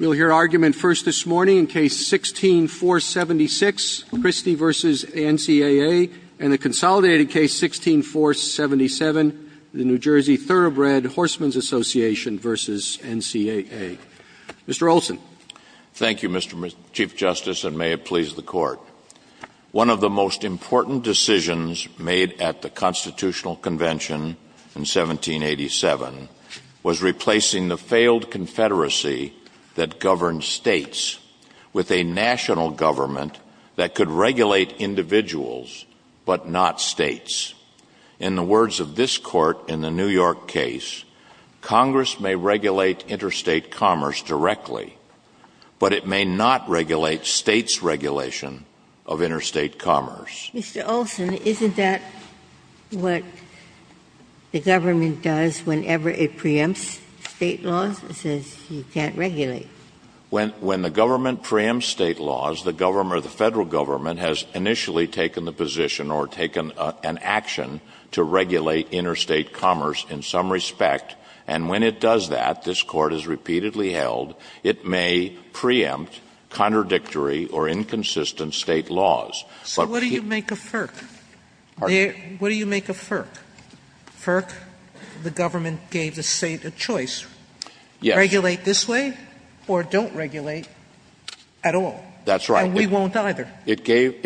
We'll hear argument first this morning in Case 16-476, Christie v. NCAA, and the consolidated Case 16-477, the New Jersey Thoroughbred Horsemen's Association v. NCAA. Mr. Olson. Thank you, Mr. Chief Justice, and may it please the Court. One of the most important decisions made at the Constitutional Convention in 1787 was replacing the failed confederacy that governed states with a national government that could regulate individuals but not states. In the words of this Court in the New York case, Congress may regulate interstate commerce directly, but it may not regulate states' regulation of interstate commerce. Mr. Olson, isn't that what the government does whenever it preempts state laws and says you can't regulate? When the government preempts state laws, the government or the Federal Government has initially taken the position or taken an action to regulate interstate commerce in some respect, and when it does that, this Court has repeatedly held it may preempt contradictory or inconsistent state laws. So what do you make of FERC? What do you make of FERC? FERC, the government gave the State a choice. Yes. Regulate this way or don't regulate at all. That's right. And we won't either. It gave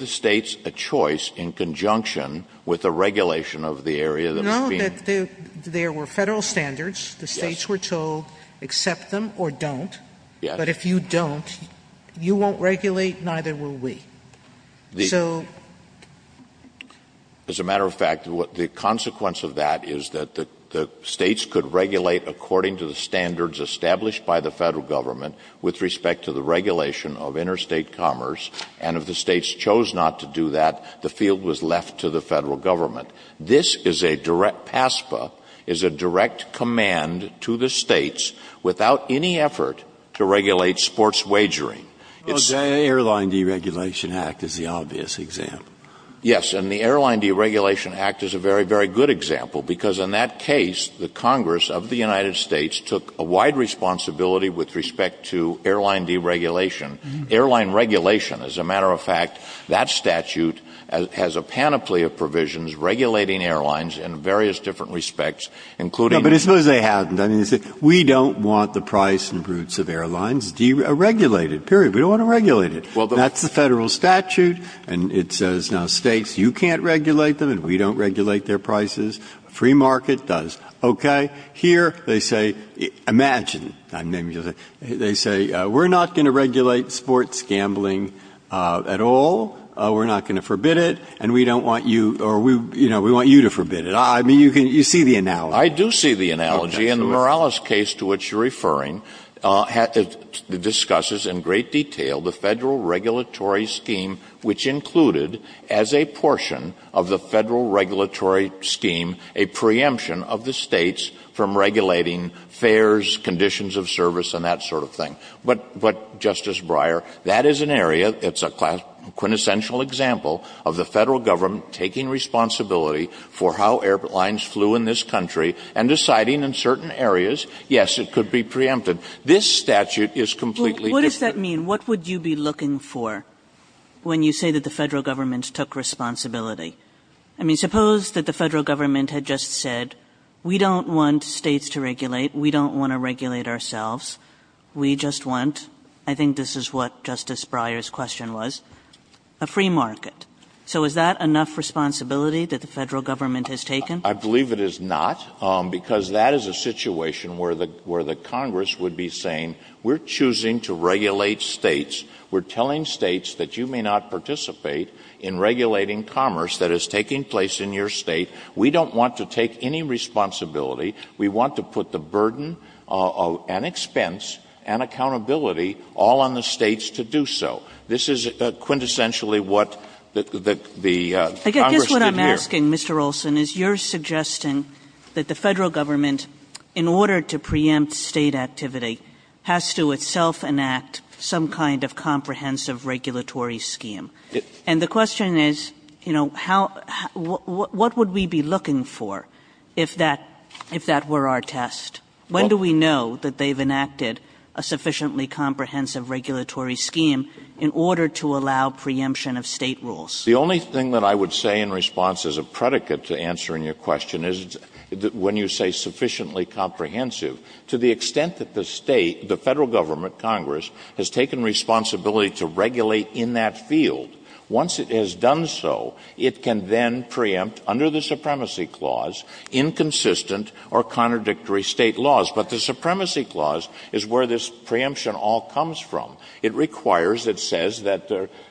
the States a choice in conjunction with the regulation of the area that was being ---- No, that there were Federal standards. Yes. The States were told accept them or don't. Yes. But if you don't, you won't regulate, neither will we. So ---- As a matter of fact, the consequence of that is that the States could regulate according to the standards established by the Federal Government with respect to the regulation of interstate commerce, and if the States chose not to do that, the field was left to the Federal Government. This is a direct PASPA, is a direct command to the States without any effort to regulate sports wagering. The Airline Deregulation Act is the obvious example. Yes. And the Airline Deregulation Act is a very, very good example because in that case, the Congress of the United States took a wide responsibility with respect to airline deregulation. Airline regulation, as a matter of fact, that statute has a panoply of provisions regulating airlines in various different respects, including ---- No, but suppose they hadn't. I mean, they say, we don't want the price and routes of airlines deregulated, period. We don't want to regulate it. Well, the ---- That's the Federal statute, and it says, now, States, you can't regulate them, and we don't regulate their prices. Free market does. Okay. Here, they say, imagine, I'm naming it. They say, we're not going to regulate sports gambling at all. We're not going to forbid it, and we don't want you or we, you know, we want you to forbid it. I mean, you see the analogy. I do see the analogy. And the Morales case to which you're referring discusses in great detail the Federal regulatory scheme, which included as a portion of the Federal regulatory scheme a preemption of the States from regulating fares, conditions of service, and that sort of thing. But, Justice Breyer, that is an area, it's a quintessential example of the Federal government taking responsibility for how airlines flew in this country and deciding in certain areas, yes, it could be preempted. This statute is completely different. What does that mean? What would you be looking for when you say that the Federal government took responsibility? I mean, suppose that the Federal government had just said, we don't want States to regulate, we don't want to regulate ourselves, we just want, I think this is what Justice Breyer's question was, a free market. So is that enough responsibility that the Federal government has taken? I believe it is not, because that is a situation where the Congress would be saying we're choosing to regulate States. We're telling States that you may not participate in regulating commerce that is taking place in your State. We don't want to take any responsibility. We want to put the burden and expense and accountability all on the States to do so. This is quintessentially what the Congress did here. What I'm asking, Mr. Olson, is you're suggesting that the Federal government, in order to preempt State activity, has to itself enact some kind of comprehensive regulatory scheme. And the question is, you know, what would we be looking for if that were our test? When do we know that they've enacted a sufficiently comprehensive regulatory scheme in order to allow preemption of State rules? The only thing that I would say in response as a predicate to answering your question is when you say sufficiently comprehensive, to the extent that the State, the Federal government, Congress, has taken responsibility to regulate in that field, once it has done so, it can then preempt under the Supremacy Clause inconsistent or contradictory State laws. But the Supremacy Clause is where this preemption all comes from. It requires, it says that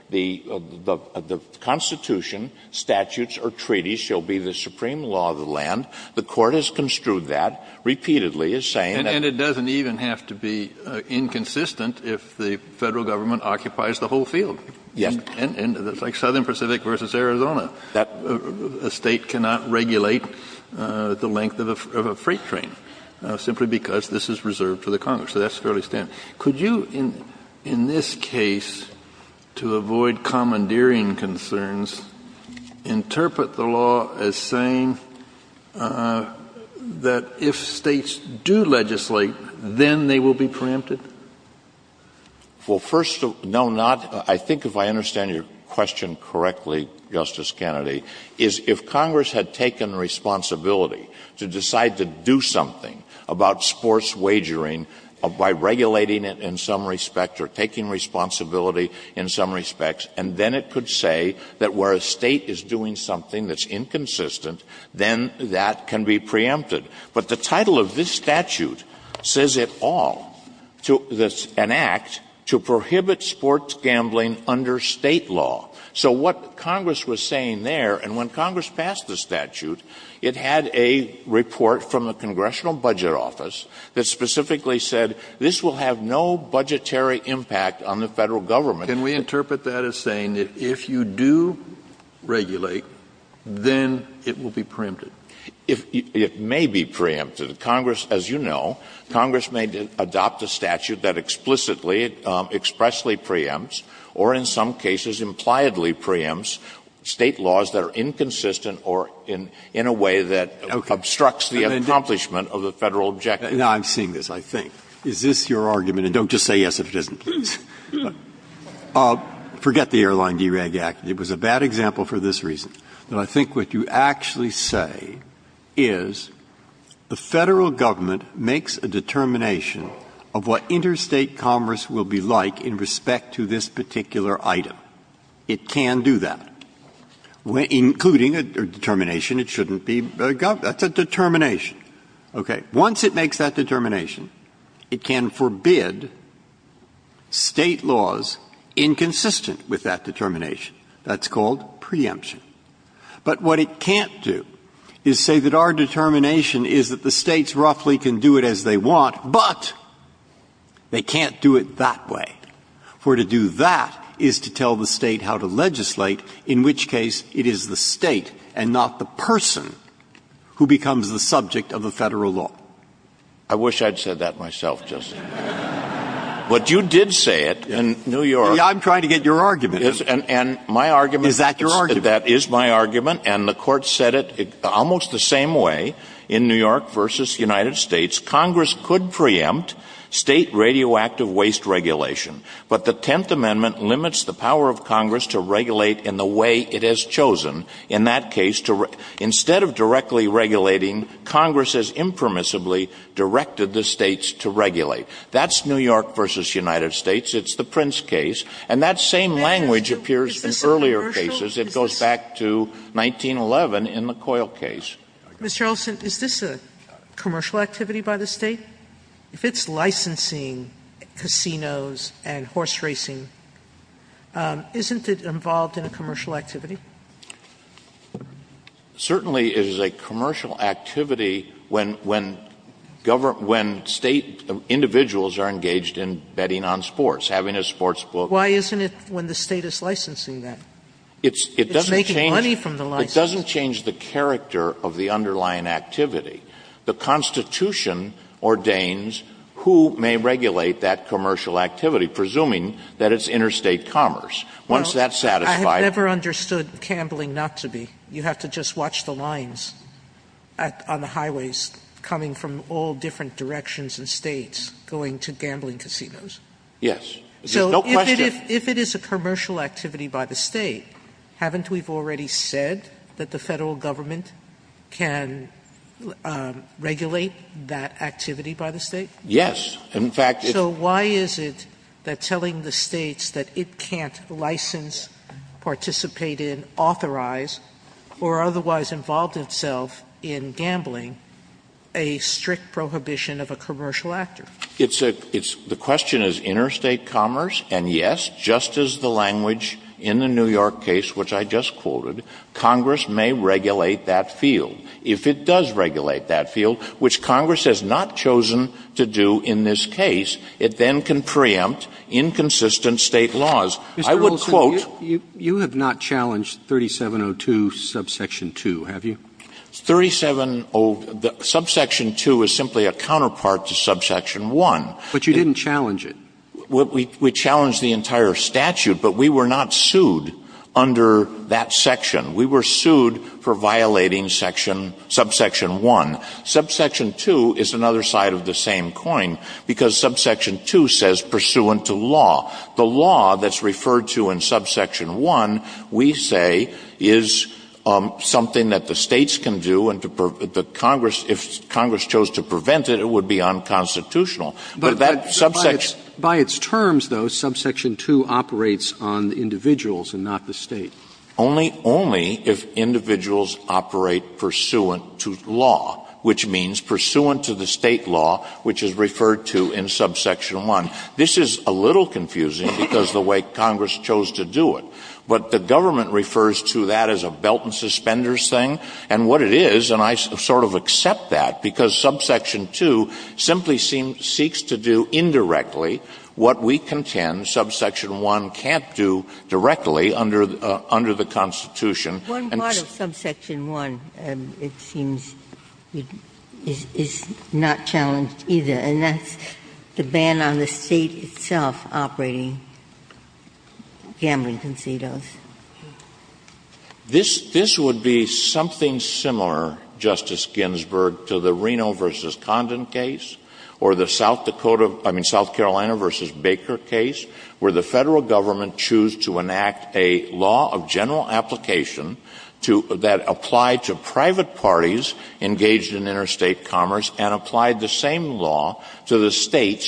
the Constitution, statutes, or treaties shall be the supreme law of the land. The Court has construed that repeatedly as saying that. Kennedy. And it doesn't even have to be inconsistent if the Federal government occupies the whole field. Olson. Yes. Kennedy. And it's like Southern Pacific v. Arizona. Olson. A State cannot regulate the length of a freight train simply because this is reserved to the Congress. So that's fairly standard. Could you, in this case, to avoid commandeering concerns, interpret the law as saying that if States do legislate, then they will be preempted? Well, first of all, no, not. I think if I understand your question correctly, Justice Kennedy, is if Congress had taken responsibility to decide to do something about sports wagering by regulating it in some respect or taking responsibility in some respects, and then it could say that where a State is doing something that's inconsistent, then that can be preempted. But the title of this statute says it all, an act to prohibit sports gambling under State law. So what Congress was saying there, and when Congress passed the statute, it had a report from the Congressional Budget Office that specifically said this will have no budgetary impact on the Federal government. Can we interpret that as saying that if you do regulate, then it will be preempted? It may be preempted. Congress, as you know, Congress may adopt a statute that explicitly, expressly preempts or in some cases, impliedly preempts State laws that are inconsistent or in a way that obstructs the accomplishment of the Federal objective. Now, I'm seeing this, I think. Is this your argument? And don't just say yes if it isn't, please. Forget the Airline DERAG Act. It was a bad example for this reason. But I think what you actually say is the Federal government makes a determination of what interstate commerce will be like in respect to this particular item. It can do that, including a determination it shouldn't be. That's a determination. Okay. Once it makes that determination, it can forbid State laws inconsistent with that determination. That's called preemption. But what it can't do is say that our determination is that the States roughly can do it as they want, but they can't do it that way. For to do that is to tell the State how to legislate, in which case it is the State and not the person who becomes the subject of the Federal law. I wish I had said that myself, Justice. But you did say it in New York. I'm trying to get your argument. And my argument is that is my argument, and the Court said it almost the same way in New York v. United States, Congress could preempt State radioactive waste regulation, but the Tenth Amendment limits the power of Congress to regulate in the way it has chosen. In that case, instead of directly regulating, Congress has impermissibly directed the States to regulate. That's New York v. United States. It's the Prince case. And that same language appears in earlier cases. It goes back to 1911 in the Coyle case. Sotomayor, is this a commercial activity by the State? If it's licensing casinos and horse racing, isn't it involved in a commercial activity? Certainly it is a commercial activity when State individuals are engaged in betting on sports, having a sports book. Why isn't it when the State is licensing that? It's making money from the license. It doesn't change the character of the underlying activity. The Constitution ordains who may regulate that commercial activity, presuming that it's interstate commerce. Once that's satisfied. Sotomayor, I have never understood gambling not to be. You have to just watch the lines on the highways coming from all different directions and States going to gambling casinos. Yes. There's no question. Sotomayor, if it is a commercial activity by the State, haven't we already said that the Federal Government can regulate that activity by the State? Yes. In fact, it's. So why is it that telling the States that it can't license, participate in, authorize, or otherwise involve itself in gambling a strict prohibition of a commercial actor? It's a, it's, the question is interstate commerce, and yes, just as the language in the New York case, which I just quoted, Congress may regulate that field. If it does regulate that field, which Congress has not chosen to do in this case, it then can preempt inconsistent State laws. I would quote. Mr. Olson, you have not challenged 3702 subsection 2, have you? 3702, subsection 2 is simply a counterpart to subsection 1. But you didn't challenge it. We challenged the entire statute, but we were not sued under that section. We were sued for violating section, subsection 1. Subsection 2 is another side of the same coin, because subsection 2 says pursuant to law. The law that's referred to in subsection 1, we say, is something that the States can do and the Congress, if Congress chose to prevent it, it would be unconstitutional. But that subsection. But by its terms, though, subsection 2 operates on the individuals and not the State. Only, only if individuals operate pursuant to law, which means pursuant to the State law, which is referred to in subsection 1. This is a little confusing because of the way Congress chose to do it. But the government refers to that as a belt-and-suspenders thing. And what it is, and I sort of accept that, because subsection 2 simply seems to do indirectly what we contend subsection 1 can't do directly under the Constitution. And it's. Ginsburg. One part of subsection 1, it seems, is not challenged either. And that's the ban on the State itself operating gambling concedos. This, this would be something similar, Justice Ginsburg, to the Reno v. Condon case or the South Dakota, I mean, South Carolina v. Baker case, where the Federal government chose to enact a law of general application to, that applied to private States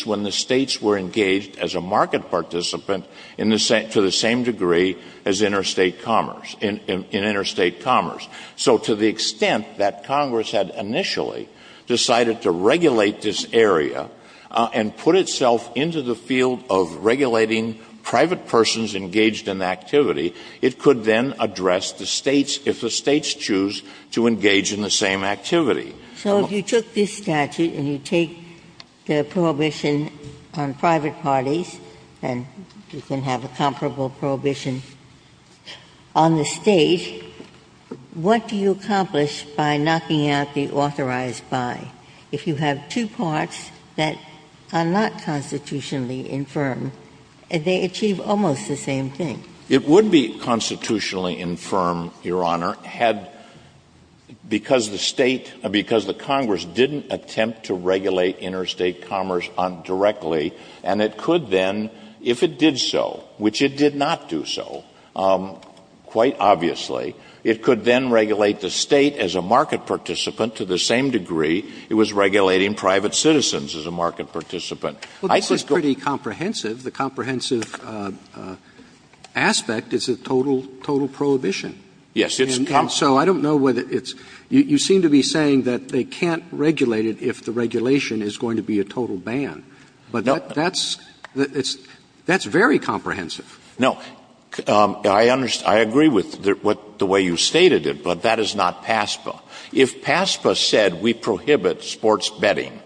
when the States were engaged as a market participant in the same, to the same degree as interstate commerce, in interstate commerce. So to the extent that Congress had initially decided to regulate this area and put itself into the field of regulating private persons engaged in activity, it could then address the States if the States choose to engage in the same activity. Ginsburg. So if you took this statute and you take the prohibition on private parties and you can have a comparable prohibition on the State, what do you accomplish by knocking out the authorized by? If you have two parts that are not constitutionally infirm, they achieve almost the same thing. It would be constitutionally infirm, Your Honor, had, because the State, because the Congress didn't attempt to regulate interstate commerce directly, and it could then, if it did so, which it did not do so, quite obviously, it could then regulate the State as a market participant to the same degree it was regulating private citizens as a market participant. Roberts. This is pretty comprehensive. The comprehensive aspect is a total, total prohibition. Yes, it's comprehensive. So I don't know whether it's you seem to be saying that they can't regulate it if the regulation is going to be a total ban. But that's, that's very comprehensive. No. I agree with the way you stated it, but that is not PASPA. If PASPA said we prohibit sports betting,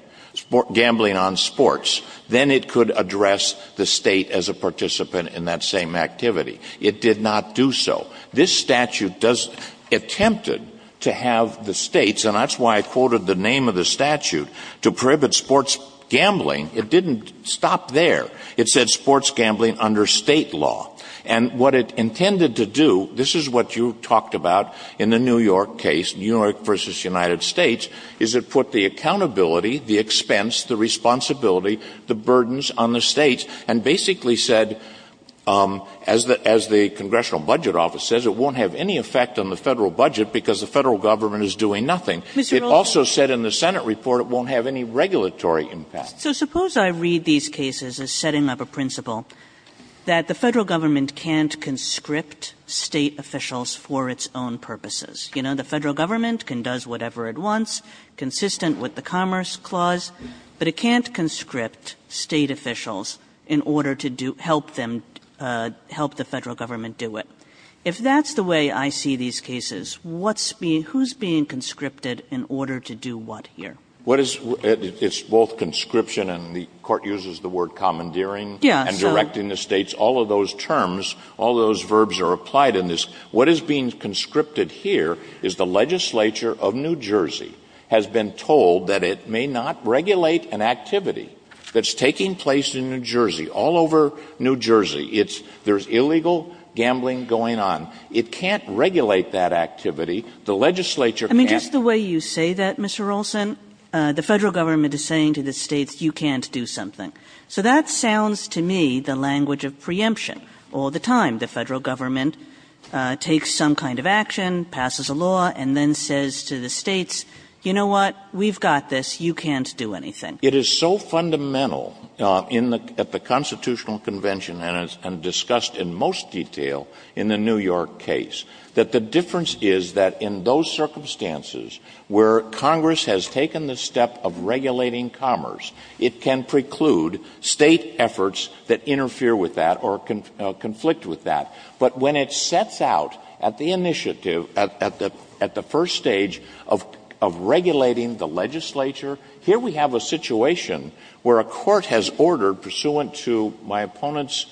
gambling on sports, then it could address the State as a participant in that same activity. It did not do so. This statute does, attempted to have the States, and that's why I quoted the name of the statute, to prohibit sports gambling. It didn't stop there. It said sports gambling under State law. And what it intended to do, this is what you talked about in the New York case, New York v. United States, is it put the accountability, the expense, the responsibility, the burdens on the States, and basically said, as the, as the Congressional Budget Office says, it won't have any effect on the Federal budget because the Federal Government is doing nothing. It also said in the Senate report it won't have any regulatory impact. Kagan. So suppose I read these cases as setting up a principle that the Federal Government can't conscript State officials for its own purposes. You know, the Federal Government can do whatever it wants, consistent with the Commerce Clause, but it can't conscript State officials in order to do, help them, help the Federal Government do it. If that's the way I see these cases, what's being, who's being conscripted in order to do what here? What is, it's both conscription, and the Court uses the word commandeering. Yes. And directing the States. All of those terms, all of those verbs are applied in this. What is being conscripted here is the legislature of New Jersey has been told that it may not regulate an activity that's taking place in New Jersey, all over New Jersey. It's, there's illegal gambling going on. It can't regulate that activity. The legislature can't. Kagan. I mean, just the way you say that, Mr. Olson, the Federal Government is saying to the States, you can't do something. So that sounds to me the language of preemption all the time. The Federal Government takes some kind of action, passes a law, and then says to the Congress, you can't do anything. Olson. It is so fundamental in the, at the Constitutional Convention, and discussed in most detail in the New York case, that the difference is that in those circumstances where Congress has taken the step of regulating commerce, it can preclude State efforts that interfere with that or conflict with that. But when it sets out at the initiative, at the first stage of regulating the legislature here we have a situation where a court has ordered, pursuant to my opponent's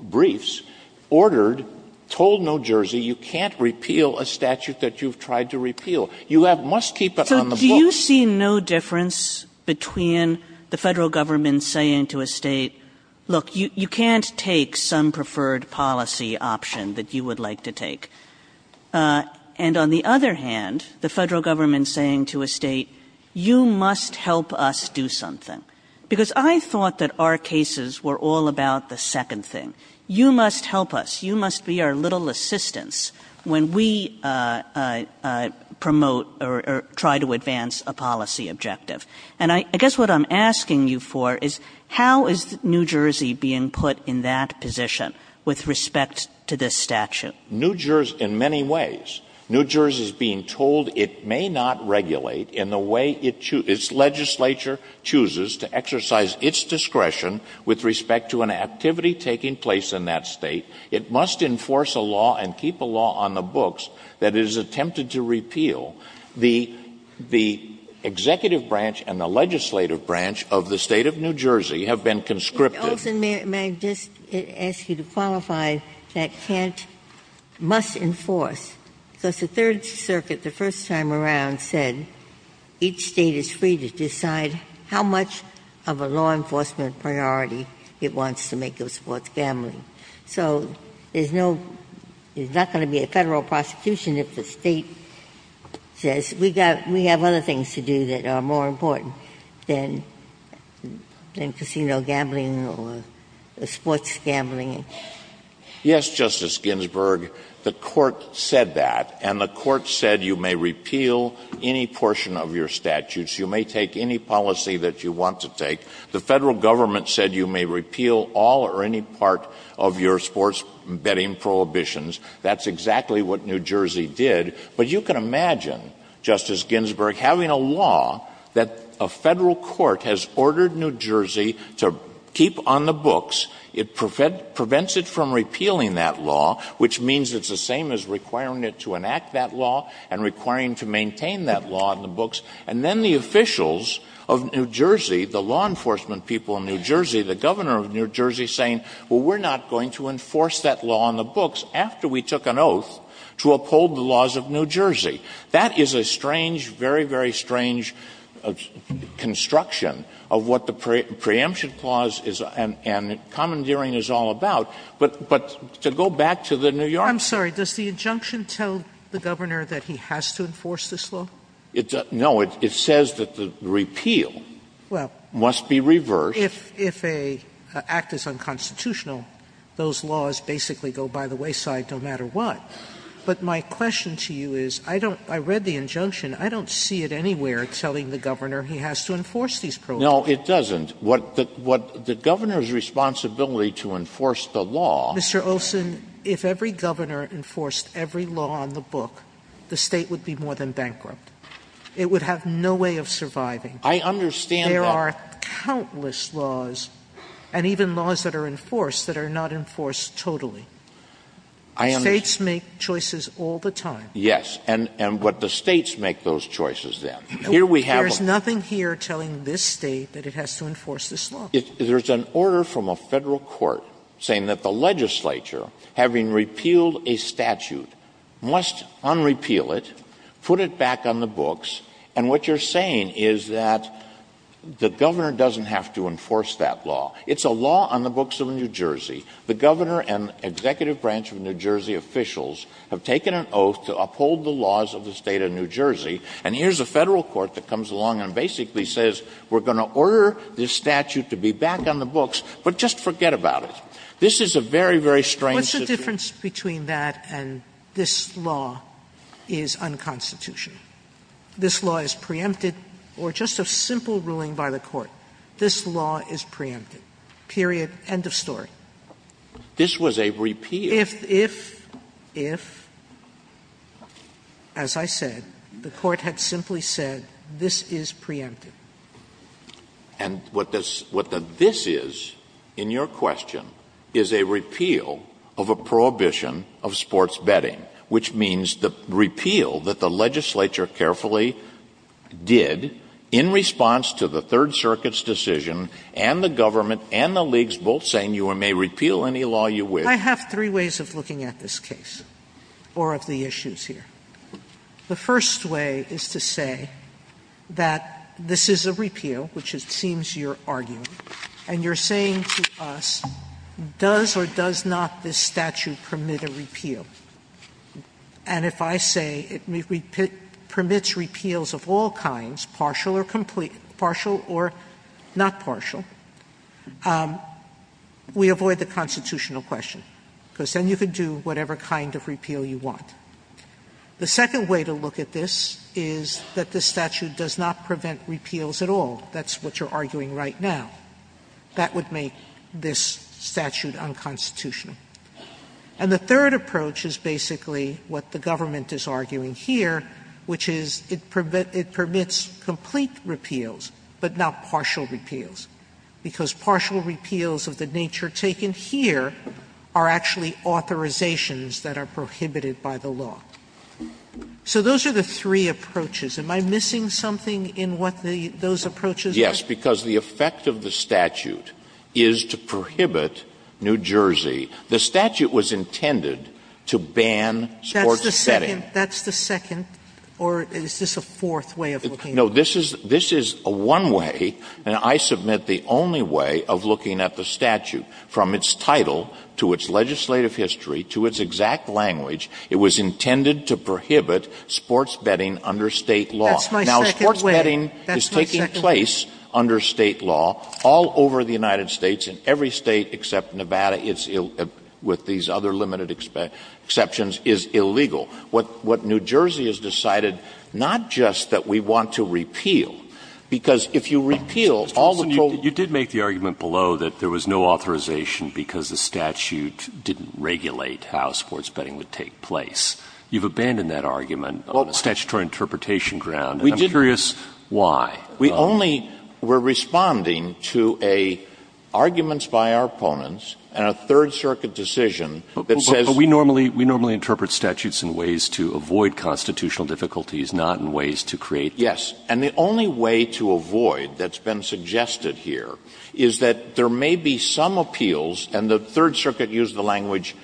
briefs, ordered, told New Jersey, you can't repeal a statute that you've tried to repeal. You have, must keep it on the books. Kagan. So do you see no difference between the Federal Government saying to a State, look, you can't take some preferred policy option that you would like to take, and on the other hand, the Federal Government saying to a State, you must help us do something? Because I thought that our cases were all about the second thing. You must help us. You must be our little assistance when we promote or try to advance a policy objective. And I guess what I'm asking you for is, how is New Jersey being put in that position with respect to this statute? New Jersey, in many ways, New Jersey is being told it may not regulate in the way its legislature chooses to exercise its discretion with respect to an activity taking place in that State. It must enforce a law and keep a law on the books that it has attempted to repeal. The executive branch and the legislative branch of the State of New Jersey have been conscripted. Mr. Olson, may I just ask you to qualify that can't or must enforce? Because the Third Circuit, the first time around, said each State is free to decide how much of a law enforcement priority it wants to make of sports gambling. So there's no to be a Federal prosecution if the State says, we've got other things to do that are more important than casino gambling or sports gambling. Yes, Justice Ginsburg, the Court said that. And the Court said you may repeal any portion of your statutes. You may take any policy that you want to take. The Federal Government said you may repeal all or any part of your sports betting prohibitions. That's exactly what New Jersey did. But you can imagine, Justice Ginsburg, having a law that a Federal court has ordered New Jersey to keep on the books. It prevents it from repealing that law, which means it's the same as requiring it to enact that law and requiring to maintain that law in the books. And then the officials of New Jersey, the law enforcement people in New Jersey, the governor of New Jersey, saying, well, we're not going to enforce that law on the people of New Jersey. That is a strange, very, very strange construction of what the preemption clause is and commandeering is all about. But to go back to the New York law. Sotomayor I'm sorry. Does the injunction tell the governor that he has to enforce this law? It doesn't. No, it says that the repeal must be reversed. Sotomayor Well, if an act is unconstitutional, those laws basically go by the wayside no matter what. But my question to you is, I don't, I read the injunction. I don't see it anywhere telling the governor he has to enforce these provisions. No, it doesn't. What the governor's responsibility to enforce the law. Mr. Olson, if every governor enforced every law on the book, the state would be more than bankrupt. It would have no way of surviving. I understand that. There are countless laws and even laws that are enforced that are not enforced totally. The states make choices all the time. Yes, and but the states make those choices then. Here we have a There's nothing here telling this state that it has to enforce this law. There's an order from a Federal court saying that the legislature, having repealed a statute, must unrepeal it, put it back on the books, and what you're saying is that the governor doesn't have to enforce that law. It's a law on the books of New Jersey. The governor and executive branch of New Jersey officials have taken an oath to uphold the laws of the state of New Jersey, and here's a Federal court that comes along and basically says we're going to order this statute to be back on the books, but just forget about it. This is a very, very strange situation. Sotomayor What's the difference between that and this law is unconstitutional? This law is preempted or just a simple ruling by the court. This law is preempted, period, end of story. This was a repeal. Sotomayor If, if, if, as I said, the court had simply said this is preempted. And what this is, in your question, is a repeal of a prohibition of sports betting, which means the repeal that the legislature carefully did in response to the Third Amendment. And if you repeal any law, you wish. Sotomayor I have three ways of looking at this case or of the issues here. The first way is to say that this is a repeal, which it seems you're arguing, and you're saying to us, does or does not this statute permit a repeal? And if I say it permits repeals of all kinds, partial or complete, partial or not partial, we avoid the constitutional question, because then you can do whatever kind of repeal you want. The second way to look at this is that the statute does not prevent repeals at all. That's what you're arguing right now. That would make this statute unconstitutional. And the third approach is basically what the government is arguing here, which is it permits complete repeals, but not partial repeals. Because partial repeals of the nature taken here are actually authorizations that are prohibited by the law. So those are the three approaches. Am I missing something in what those approaches are? Yes, because the effect of the statute is to prohibit New Jersey. The statute was intended to ban sports betting. That's the second, or is this a fourth way of looking at it? No, this is a one way, and I submit the only way of looking at the statute. From its title to its legislative history to its exact language, it was intended to prohibit sports betting under state law. That's my second way. Now, sports betting is taking place under state law all over the United States. In every state except Nevada, with these other limited exceptions, is illegal. What New Jersey has decided, not just that we want to repeal, because if you repeal all the problems. You did make the argument below that there was no authorization because the statute didn't regulate how sports betting would take place. You've abandoned that argument on a statutory interpretation ground, and I'm curious why. We only were responding to a arguments by our opponents and a Third Circuit decision that says. But we normally interpret statutes in ways to avoid constitutional difficulties, not in ways to create. Yes. And the only way to avoid that's been suggested here is that there may be some appeals, and the Third Circuit used the language,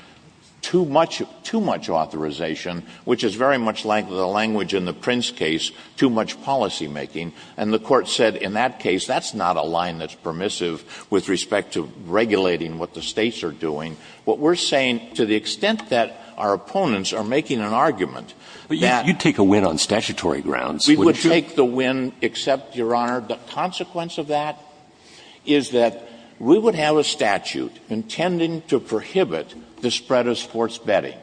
too much authorization, which is very much like the language in the Prince case, too much policymaking. And the Court said in that case, that's not a line that's permissive with respect to regulating what the States are doing. What we're saying, to the extent that our opponents are making an argument that. But you'd take a win on statutory grounds, wouldn't you? We would take the win, except, Your Honor, the consequence of that is that we would have a statute intending to prohibit the spread of sports betting.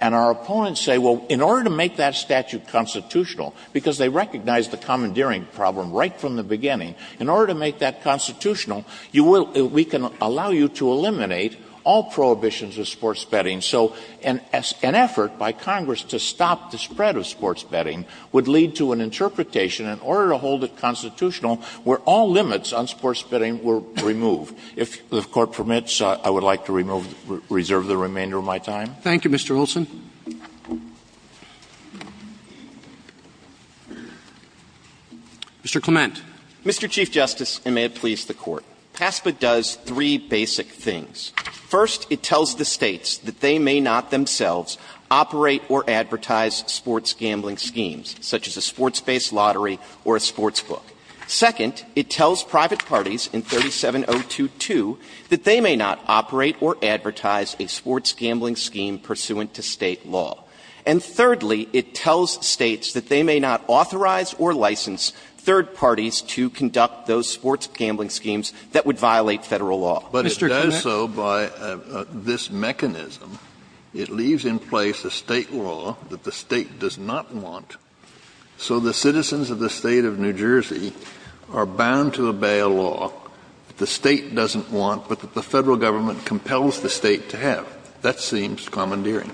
And our opponents say, well, in order to make that statute constitutional, because they recognized the commandeering problem right from the beginning, in order to make that constitutional, you will we can allow you to eliminate all prohibitions of sports betting. So an effort by Congress to stop the spread of sports betting would lead to an interpretation in order to hold it constitutional where all limits on sports betting were removed. If the Court permits, I would like to reserve the remainder of my time. Thank you, Mr. Olson. Mr. Clement. Mr. Chief Justice, and may it please the Court. PASPA does three basic things. First, it tells the States that they may not themselves operate or advertise sports gambling schemes, such as a sports-based lottery or a sportsbook. Second, it tells private parties in 37022 that they may not operate or advertise a sports gambling scheme pursuant to State law. And thirdly, it tells States that they may not authorize or license third parties to conduct those sports gambling schemes that would violate Federal law. But it does so by this mechanism. It leaves in place a State law that the State does not want. So the citizens of the State of New Jersey are bound to obey a law that the State doesn't want, but that the Federal government compels the State to have. That seems commandeering.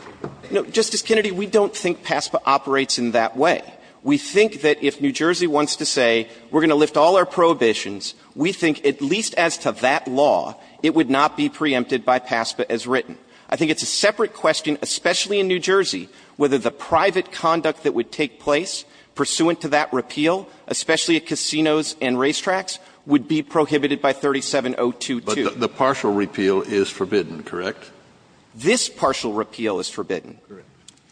No, Justice Kennedy, we don't think PASPA operates in that way. We think that if New Jersey wants to say, we're going to lift all our prohibitions, we think, at least as to that law, it would not be preempted by PASPA as written. I think it's a separate question, especially in New Jersey, whether the private conduct that would take place pursuant to that repeal, especially at casinos and racetracks, would be prohibited by 37022. Kennedy, But the partial repeal is forbidden, correct? Clement, This partial repeal is forbidden.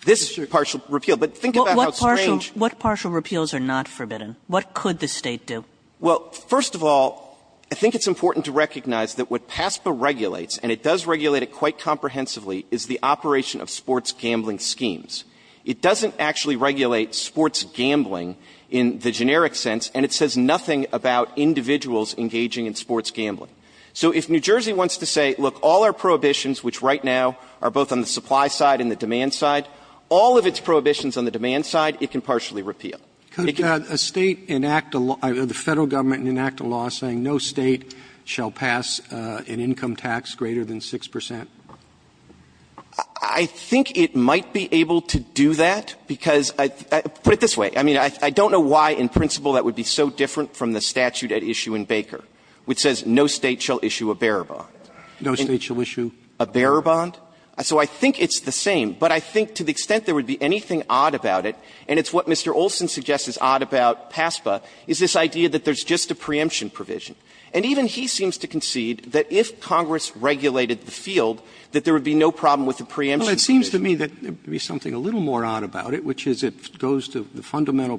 This partial repeal. But think about how strange. Kagan, What partial repeals are not forbidden? What could the State do? Clement, Well, first of all, I think it's important to recognize that what PASPA regulates, and it does regulate it quite comprehensively, is the operation of sports gambling schemes. It doesn't actually regulate sports gambling in the generic sense, and it says nothing about individuals engaging in sports gambling. So if New Jersey wants to say, look, all our prohibitions, which right now are both on the supply side and the demand side, all of its prohibitions on the demand side, it can partially repeal. Roberts, A State enact a law, the Federal Government enact a law saying no State shall pass an income tax greater than 6 percent? Clement, I think it might be able to do that, because, put it this way, I mean, I don't know why in principle that would be so different from the statute at issue in Baker, which says no State shall issue a bearer bond. Roberts, No State shall issue a bearer bond? Clement, So I think it's the same. But I think to the extent there would be anything odd about it, and it's what Mr. Olson suggests is odd about PASPA, is this idea that there's just a preemption provision. And even he seems to concede that if Congress regulated the field, that there would be no problem with the preemption provision. Roberts, Well, it seems to me that there would be something a little more odd about it, which is it goes to the fundamental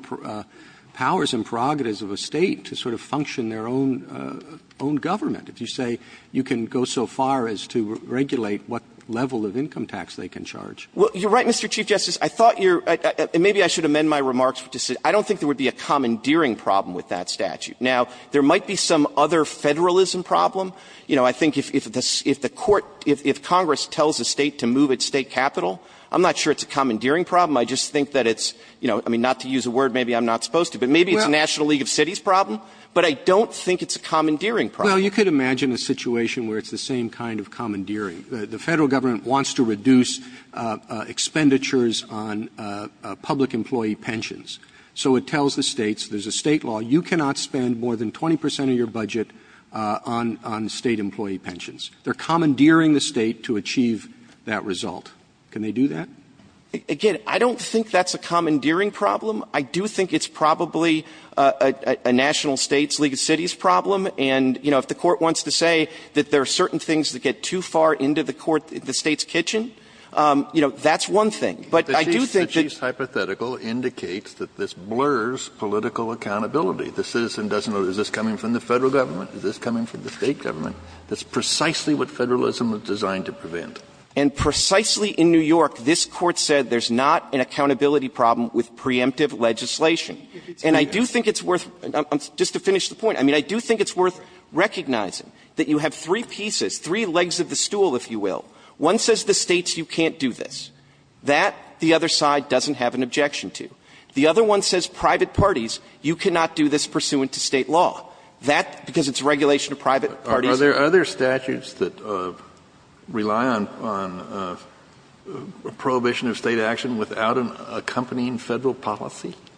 powers and prerogatives of a State to sort of function their own government. If you say you can go so far as to regulate what level of income tax they can charge. Clement, Well, you're right, Mr. Chief Justice. I thought you're – and maybe I should amend my remarks to say I don't think there would be a commandeering problem with that statute. Now, there might be some other Federalism problem. You know, I think if the Court – if Congress tells a State to move its State capital, I'm not sure it's a commandeering problem. I just think that it's, you know, I mean, not to use a word maybe I'm not supposed to, but maybe it's a National League of Cities problem, but I don't think it's a commandeering problem. Roberts, Well, you could imagine a situation where it's the same kind of commandeering. The Federal Government wants to reduce expenditures on public employee pensions. So it tells the States, there's a State law, you cannot spend more than 20 percent of your budget on State employee pensions. They're commandeering the State to achieve that result. Can they do that? Clement, Again, I don't think that's a commandeering problem. I do think it's probably a National States League of Cities problem. And, you know, if the Court wants to say that there are certain things that get too far into the Court, the State's kitchen, you know, that's one thing. But I do think that the Chiefs' hypothetical indicates that this blurs political accountability. The citizen doesn't know, is this coming from the Federal Government? Is this coming from the State Government? That's precisely what Federalism is designed to prevent. Clement, And precisely in New York, this Court said there's not an accountability problem with preemptive legislation. And I do think it's worth – just to finish the point, I mean, I do think it's worth recognizing that you have three pieces, three legs of the stool, if you will. One says the States, you can't do this. That, the other side doesn't have an objection to. The other one says private parties, you cannot do this pursuant to State law. That, because it's a regulation of private parties. Kennedy, Are there statutes that rely on a prohibition of State action without an accompanying Federal policy? Clement,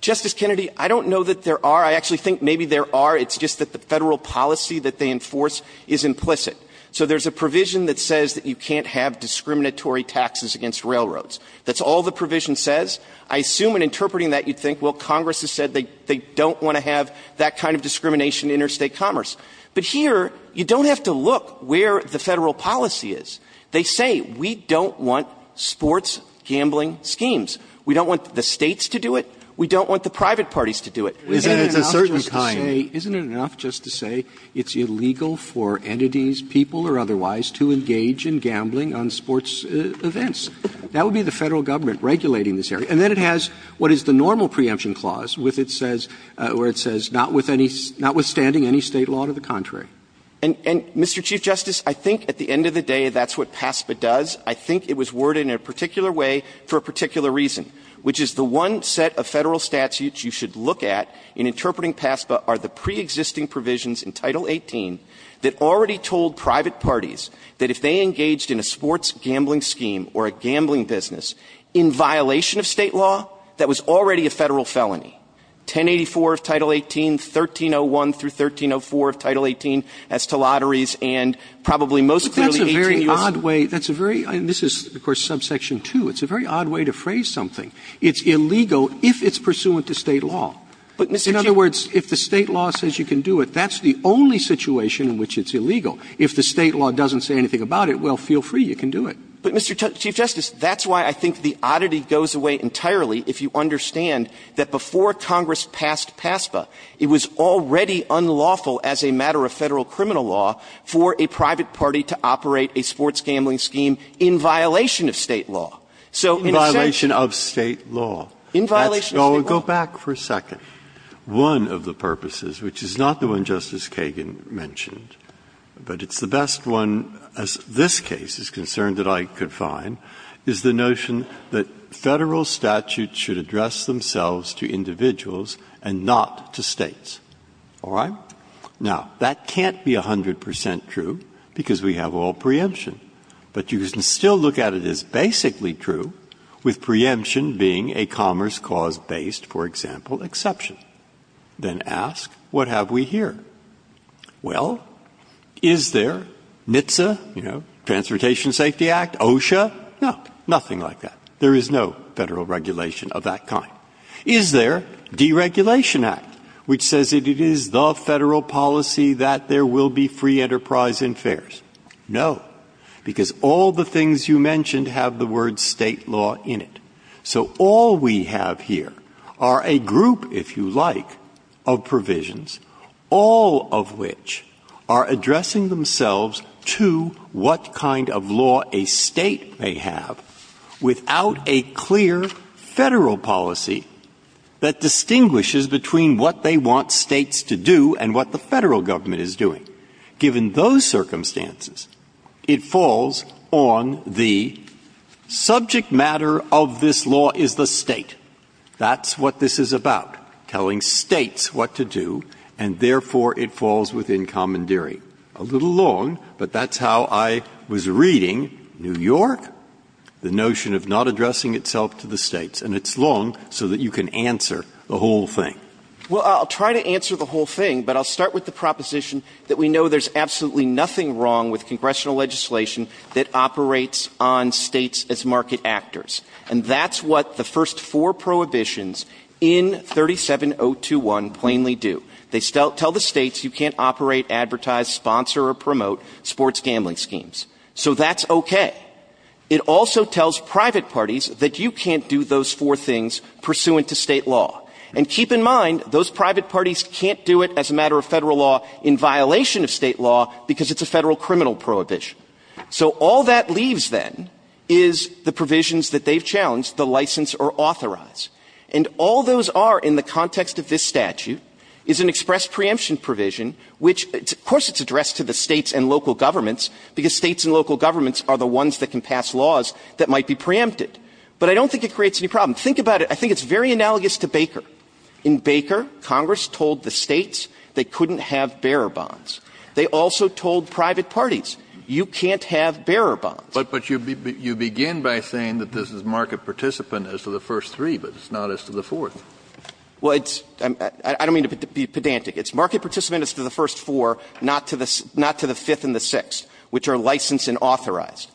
Justice Kennedy, I don't know that there are. I actually think maybe there are. It's just that the Federal policy that they enforce is implicit. So there's a provision that says that you can't have discriminatory taxes against railroads. That's all the provision says. I assume in interpreting that you'd think, well, Congress has said they don't want to have that kind of discrimination in interstate commerce. But here, you don't have to look where the Federal policy is. They say, we don't want sports gambling schemes. We don't want the States to do it. We don't want the private parties to do it. It's a certain kind. Roberts, Isn't it enough just to say it's illegal for entities, people or otherwise, to engage in gambling on sports events? That would be the Federal government regulating this area. And then it has what is the normal preemption clause, where it says not withstanding any State law to the contrary. Clement, And, Mr. Chief Justice, I think at the end of the day, that's what PASPA does. I think it was worded in a particular way for a particular reason, which is the one set of Federal statutes you should look at in interpreting PASPA are the pre-existing provisions in Title 18 that already told private parties that if they engaged in a sports gambling scheme or a gambling business in violation of State law, that was already a Federal felony. 1084 of Title 18, 1301 through 1304 of Title 18 as to lotteries and probably most clearly 18 years. Roberts, But that's a very odd way. That's a very odd way. This is, of course, subsection 2. It's a very odd way to phrase something. It's illegal if it's pursuant to State law. In other words, if the State law says you can do it, that's the only situation in which it's illegal. If the State law doesn't say anything about it, well, feel free, you can do it. Clement, But, Mr. Chief Justice, that's why I think the oddity goes away entirely if you understand that before Congress passed PASPA, it was already unlawful as a matter of Federal criminal law for a private party to operate a sports gambling scheme So in a sense of the law, it's illegal. If the State law says you can do it, that's the only situation in which it's illegal. illegal. Breyer, In violation of State law. Breyer, I would go back for a second. One of the purposes, which is not the one Justice Kagan mentioned, but it's the best one as this case is concerned that I could find, is the notion that Federal statutes should address themselves to individuals and not to States. All right? Now, that can't be 100 percent true because we have all preemption, but you can still look at it as basically true with preemption being a commerce cause-based, for example, exception. Then ask, what have we here? Well, is there NHTSA, you know, Transportation Safety Act, OSHA? No, nothing like that. There is no Federal regulation of that kind. Is there Deregulation Act, which says it is the Federal policy that there will be free enterprise and fares? No, because all the things you mentioned have the word State law in it. So all we have here are a group, if you like, of provisions, all of which are addressing themselves to what kind of law a State may have without a clear Federal policy that distinguishes between what they want States to do and what the Federal government is doing. Given those circumstances, it falls on the subject matter of this law is the State. That's what this is about, telling States what to do, and therefore it falls within the scope of State commandeering. A little long, but that's how I was reading New York, the notion of not addressing itself to the States, and it's long so that you can answer the whole thing. Well, I'll try to answer the whole thing, but I'll start with the proposition that we know there's absolutely nothing wrong with congressional legislation that operates on States as market actors. And that's what the first four prohibitions in 37021 plainly do. They tell the States you can't operate, advertise, sponsor, or promote sports gambling schemes. So that's okay. It also tells private parties that you can't do those four things pursuant to State law. And keep in mind, those private parties can't do it as a matter of Federal law in violation of State law because it's a Federal criminal prohibition. So all that leaves, then, is the provisions that they've challenged, the license or authorize. And all those are, in the context of this statute, is an express preemption provision, which, of course, it's addressed to the States and local governments, because States and local governments are the ones that can pass laws that might be preempted. But I don't think it creates any problem. Think about it. I think it's very analogous to Baker. In Baker, Congress told the States they couldn't have bearer bonds. They also told private parties, you can't have bearer bonds. Kennedy, but you begin by saying that this is market participant as to the first three, but it's not as to the fourth. Well, it's – I don't mean to be pedantic. It's market participant as to the first four, not to the – not to the fifth and the sixth, which are licensed and authorized.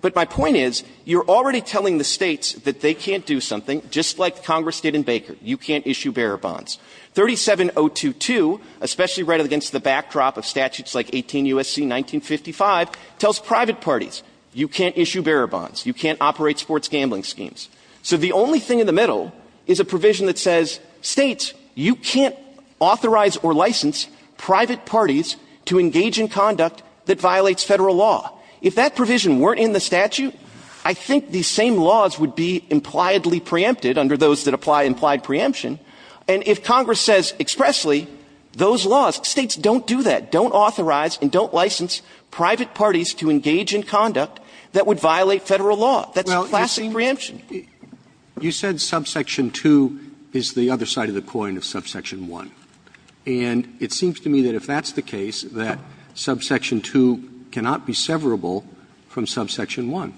But my point is, you're already telling the States that they can't do something. Just like Congress did in Baker, you can't issue bearer bonds. 37022, especially right against the backdrop of statutes like 18 U.S.C. 1955, tells private parties, you can't issue bearer bonds. You can't operate sports gambling schemes. So the only thing in the middle is a provision that says, States, you can't authorize or license private parties to engage in conduct that violates Federal law. If that provision weren't in the statute, I think these same laws would be impliedly preempted under those that apply implied preemption. And if Congress says expressly those laws, States don't do that, don't authorize and don't license private parties to engage in conduct that would violate Federal law, that's a classic preemption. Roberts. You said subsection 2 is the other side of the coin of subsection 1. And it seems to me that if that's the case, that subsection 2 cannot be severable from subsection 1.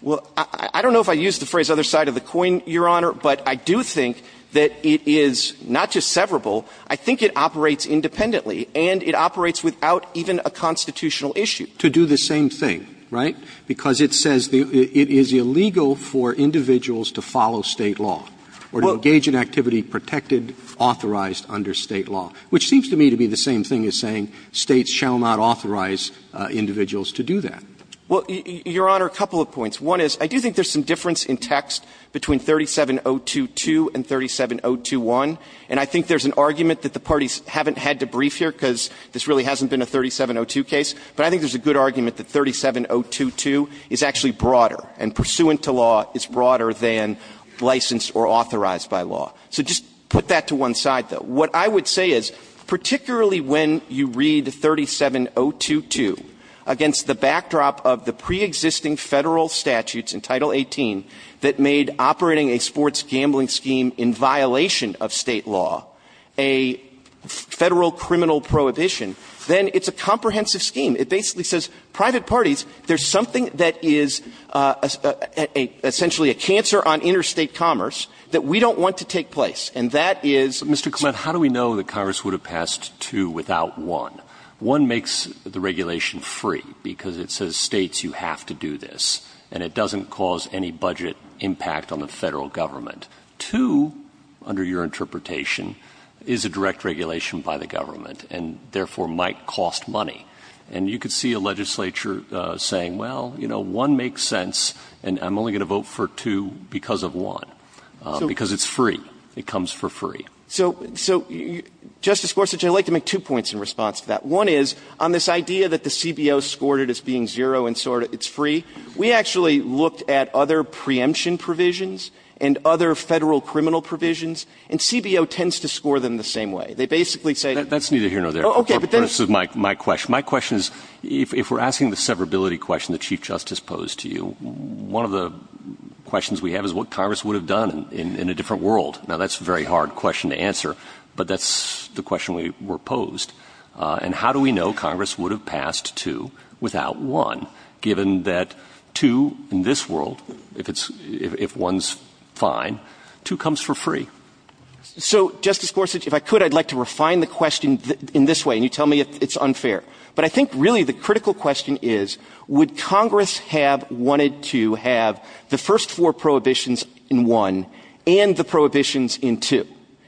Well, I don't know if I used the phrase other side of the coin, Your Honor, but I do think that it is not just severable. I think it operates independently. And it operates without even a constitutional issue. To do the same thing, right? Because it says it is illegal for individuals to follow State law or to engage in activity protected, authorized under State law, which seems to me to be the same thing as saying States shall not authorize individuals to do that. Well, Your Honor, a couple of points. One is, I do think there's some difference in text between 37022 and 37021. And I think there's an argument that the parties haven't had to brief here because this really hasn't been a 3702 case. But I think there's a good argument that 37022 is actually broader and pursuant to law is broader than licensed or authorized by law. So just put that to one side, though. What I would say is, particularly when you read 37022 against the backdrop of the preexisting Federal statutes in Title 18 that made operating a sports gambling scheme in violation of State law a Federal criminal prohibition, then it's a comprehensive scheme. It basically says private parties, there's something that is essentially a cancer on interstate commerce that we don't want to take place. And that is, Mr. Clement. How do we know that Congress would have passed 2 without 1? 1 makes the regulation free because it says States, you have to do this. And it doesn't cause any budget impact on the Federal Government. 2, under your interpretation, is a direct regulation by the Government and therefore might cost money. And you could see a legislature saying, well, you know, 1 makes sense and I'm only going to vote for 2 because of 1, because it's free. It comes for free. So, Justice Gorsuch, I'd like to make two points in response to that. One is, on this idea that the CBO scored it as being 0 and so it's free, we actually looked at other preemption provisions and other Federal criminal provisions, and CBO tends to score them the same way. They basically say that's neither here nor there. My question is, if we're asking the severability question that Chief Justice posed to you, one of the questions we have is what Congress would have done in a different world. Now, that's a very hard question to answer, but that's the question we were posed. And how do we know Congress would have passed 2 without 1, given that 2 in this world, if it's – if 1's fine, 2 comes for free? So, Justice Gorsuch, if I could, I'd like to refine the question in this way, and you tell me it's unfair. But I think really the critical question is, would Congress have wanted to have the first four prohibitions in 1 and the prohibitions in 2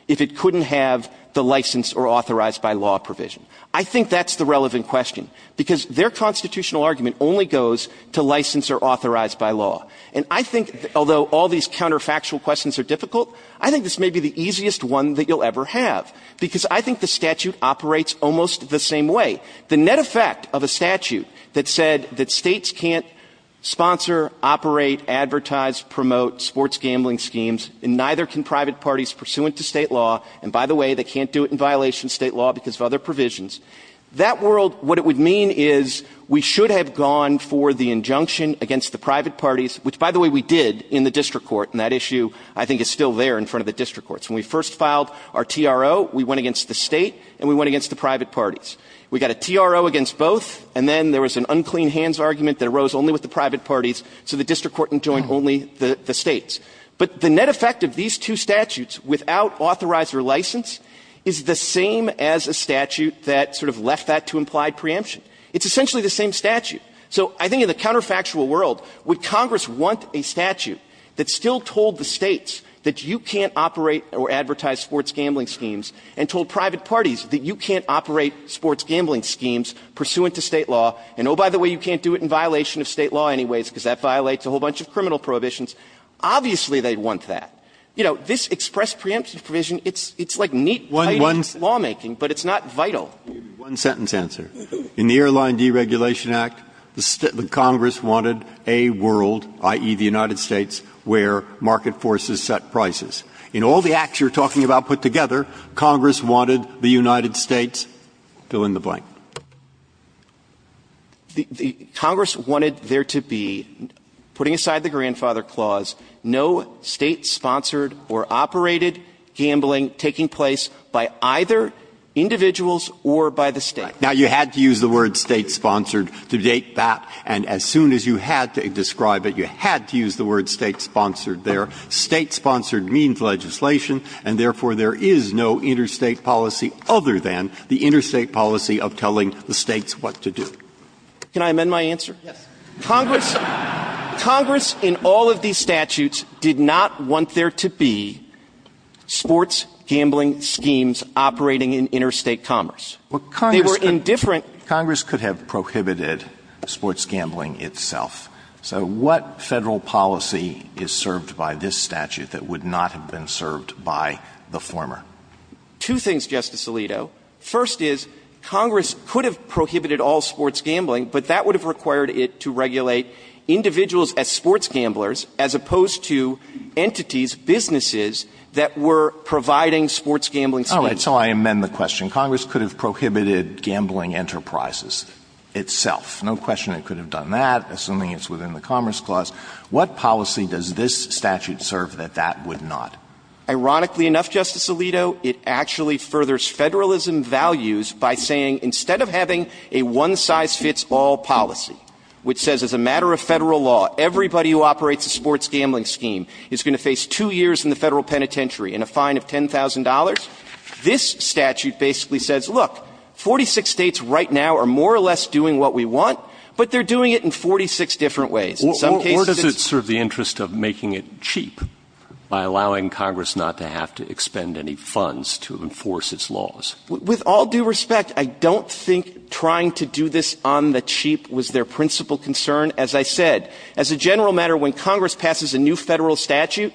if it couldn't have the license or authorized by law provision? I think that's the relevant question, because their constitutional argument only goes to license or authorized by law. And I think, although all these counterfactual questions are difficult, I think this may be the easiest one that you'll ever have, because I think the statute operates almost the same way. The net effect of a statute that said that States can't sponsor, operate, advertise, promote sports gambling schemes, and neither can private parties pursuant to State law, and by the way, they can't do it in violation of State law because of other provisions, that world, what it would mean is we should have gone for the injunction against the private parties, which, by the way, we did in the district court, and that issue I think is still there in front of the district courts. When we first filed our TRO, we went against the State and we went against the private parties. We got a TRO against both, and then there was an unclean hands argument that arose only with the private parties, so the district court enjoined only the States. But the net effect of these two statutes without authorizer license is the same as a statute that sort of left that to implied preemption. It's essentially the same statute. So I think in the counterfactual world, would Congress want a statute that still told the States that you can't operate or advertise sports gambling schemes and told private parties that you can't operate sports gambling schemes pursuant to State law, and oh, by the way, you can't do it in violation of State law anyways because that violates a whole bunch of criminal prohibitions, obviously they'd want that. You know, this express preemption provision, it's like neat, tidy lawmaking, but it's not vital. Breyer. One sentence answer. In the Airline Deregulation Act, the Congress wanted a world, i.e., the United States, where market forces set prices. In all the acts you're talking about put together, Congress wanted the United States fill in the blank. Congress wanted there to be, putting aside the Grandfather Clause, no State-sponsored or operated gambling taking place by either individuals or by the State. Right. Now, you had to use the word State-sponsored to date that, and as soon as you had to describe it, you had to use the word State-sponsored there. State-sponsored means legislation, and therefore there is no interstate policy other than the interstate policy of telling the States what to do. Can I amend my answer? Yes. Congress in all of these statutes did not want there to be sports gambling schemes operating in interstate commerce. They were indifferent. Congress could have prohibited sports gambling itself. So what Federal policy is served by this statute that would not have been served by the former? Two things, Justice Alito. First is, Congress could have prohibited all sports gambling, but that would have required it to regulate individuals as sports gamblers as opposed to entities, businesses, that were providing sports gambling schemes. All right. So I amend the question. Congress could have prohibited gambling enterprises itself. No question it could have done that, assuming it's within the Commerce Clause. What policy does this statute serve that that would not? Ironically enough, Justice Alito, it actually furthers Federalism values by saying instead of having a one-size-fits-all policy, which says as a matter of Federal law, everybody who operates a sports gambling scheme is going to face two years in the Federal penitentiary and a fine of $10,000, this statute basically says, look, 46 States right now are more or less doing what we want, but they're doing it in 46 different ways. Or does it serve the interest of making it cheap by allowing Congress not to have to expend any funds to enforce its laws? With all due respect, I don't think trying to do this on the cheap was their principal concern. As I said, as a general matter, when Congress passes a new Federal statute,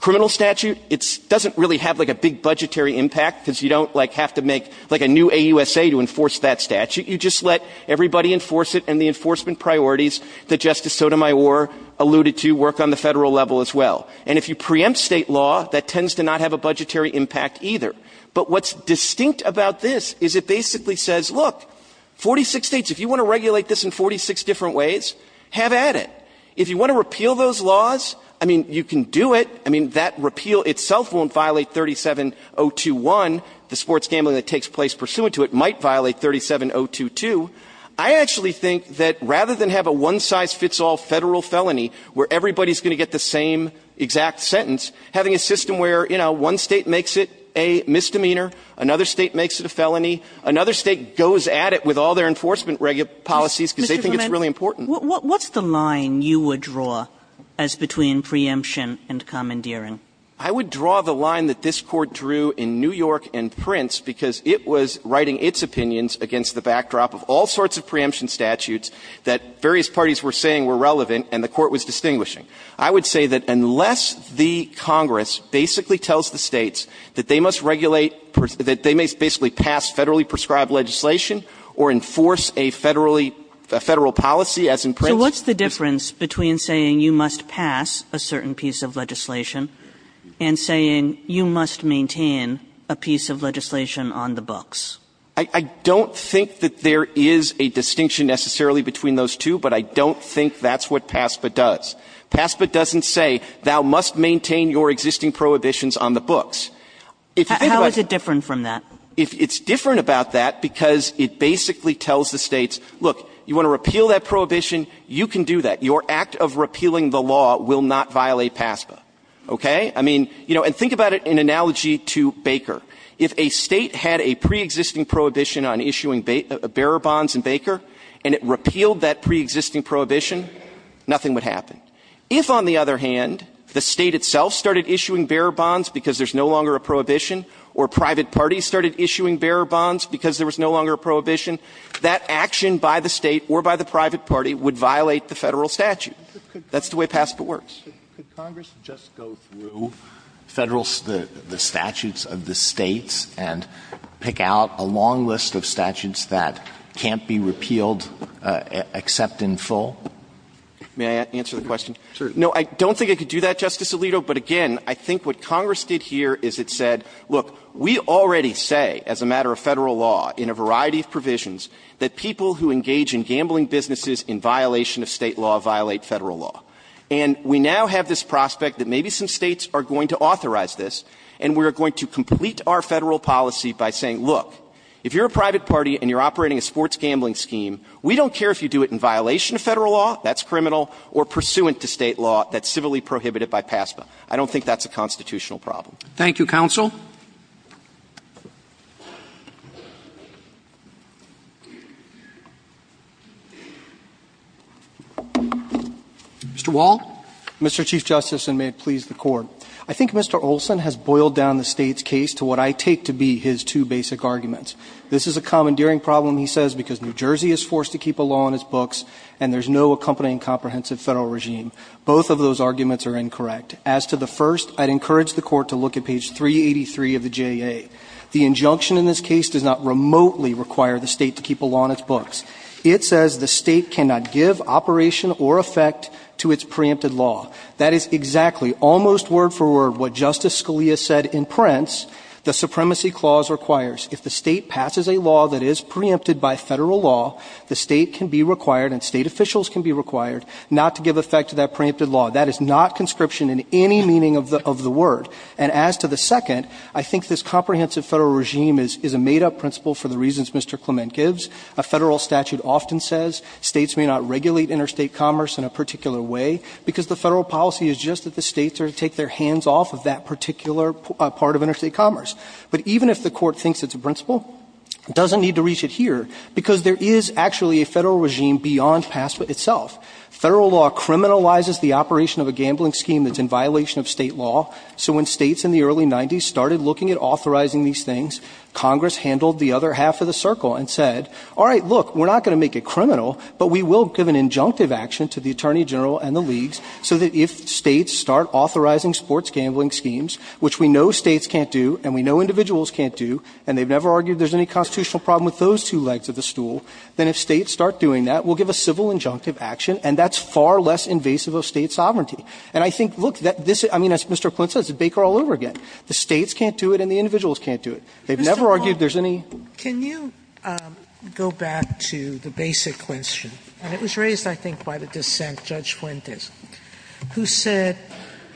criminal statute, it doesn't really have, like, a big budgetary impact because you don't, like, have to make, like, a new AUSA to enforce that statute. You just let everybody enforce it and the enforcement priorities that Justice Sotomayor alluded to work on the Federal level as well. And if you preempt State law, that tends to not have a budgetary impact either. But what's distinct about this is it basically says, look, 46 States, if you want to regulate this in 46 different ways, have at it. If you want to repeal those laws, I mean, you can do it. I mean, that repeal itself won't violate 37021. The sports gambling that takes place pursuant to it might violate 37022. I actually think that rather than have a one-size-fits-all Federal felony where everybody is going to get the same exact sentence, having a system where, you know, one State makes it a misdemeanor, another State makes it a felony, another State goes at it with all their enforcement policies because they think it's really important. Kagan. What's the line you would draw as between preemption and commandeering? I would draw the line that this Court drew in New York and Prince because it was writing its opinions against the backdrop of all sorts of preemption statutes that various parties were saying were relevant and the Court was distinguishing. I would say that unless the Congress basically tells the States that they must regulate or that they may basically pass Federally prescribed legislation or enforce a Federal policy, as in Prince. Kagan. So what's the difference between saying you must pass a certain piece of legislation and saying you must maintain a piece of legislation on the books? I don't think that there is a distinction necessarily between those two, but I don't think that's what PASPA does. PASPA doesn't say thou must maintain your existing prohibitions on the books. If you think about it. How is it different from that? It's different about that because it basically tells the States, look, you want to repeal that prohibition, you can do that. Your act of repealing the law will not violate PASPA. Okay? I mean, you know, and think about it in analogy to Baker. If a State had a preexisting prohibition on issuing bearer bonds in Baker and it repealed that preexisting prohibition, nothing would happen. If, on the other hand, the State itself started issuing bearer bonds because there's no longer a prohibition or private parties started issuing bearer bonds because there was no longer a prohibition, that action by the State or by the private party would violate the Federal statute. That's the way PASPA works. Alito, could Congress just go through Federal, the statutes of the States and pick out a long list of statutes that can't be repealed except in full? May I answer the question? No, I don't think I could do that, Justice Alito. But again, I think what Congress did here is it said, look, we already say as a matter of Federal law in a variety of provisions that people who engage in gambling businesses in violation of State law violate Federal law. And we now have this prospect that maybe some States are going to authorize this and we are going to complete our Federal policy by saying, look, if you're a private party and you're operating a sports gambling scheme, we don't care if you do it in violation of Federal law, that's criminal, or pursuant to State law that's civilly prohibited by PASPA. I don't think that's a constitutional problem. Thank you, counsel. Mr. Wall. Mr. Chief Justice, and may it please the Court. I think Mr. Olson has boiled down the State's case to what I take to be his two basic arguments. This is a commandeering problem, he says, because New Jersey is forced to keep a law on its books and there's no accompanying comprehensive Federal regime. Both of those arguments are incorrect. As to the first, I'd encourage the Court to look at page 383 of the JA. The injunction in this case does not remotely require the State to keep a law on its books. It says the State cannot give operation or effect to its preempted law. That is exactly, almost word for word, what Justice Scalia said in Prince, the supremacy clause requires. If the State passes a law that is preempted by Federal law, the State can be required and State officials can be required not to give effect to that preempted law. That is not conscription in any meaning of the word. And as to the second, I think this comprehensive Federal regime is a made-up principle for the reasons Mr. Clement gives. A Federal statute often says States may not regulate interstate commerce in a particular way, because the Federal policy is just that the States are to take their hands off of that particular part of interstate commerce. But even if the Court thinks it's a principle, it doesn't need to reach it here, because there is actually a Federal regime beyond PASPA itself. Federal law criminalizes the operation of a gambling scheme that's in violation of State law. So when States in the early 90s started looking at authorizing these things, Congress handled the other half of the circle and said, all right, look, we're not going to make it criminal, but we will give an injunctive action to the Attorney General and the leagues so that if States start authorizing sports gambling schemes, which we know States can't do and we know individuals can't do, and they've never argued there's any constitutional problem with those two legs of the stool, then if States start doing that, we'll give a civil injunctive action, and that's far less invasive of State sovereignty. And I think, look, this is, I mean, as Mr. Flint said, it's a baker all over again. The States can't do it and the individuals can't do it. They've never argued there's any. Sotomayor, can you go back to the basic question? And it was raised, I think, by the dissent, Judge Flint, who said,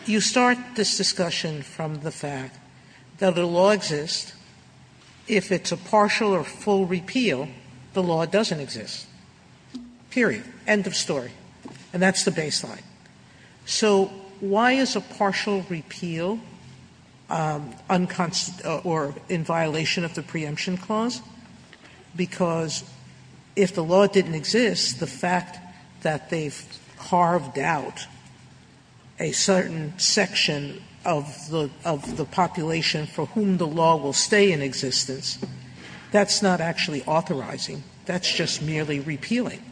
you start this discussion from the fact that the law exists, if it's a partial or full repeal, then the law doesn't exist, period, end of story. And that's the baseline. So why is a partial repeal unconstitutional or in violation of the preemption clause? Because if the law didn't exist, the fact that they've carved out a certain section of the population for whom the law will stay in existence, that's not actually authorizing. That's just merely repealing.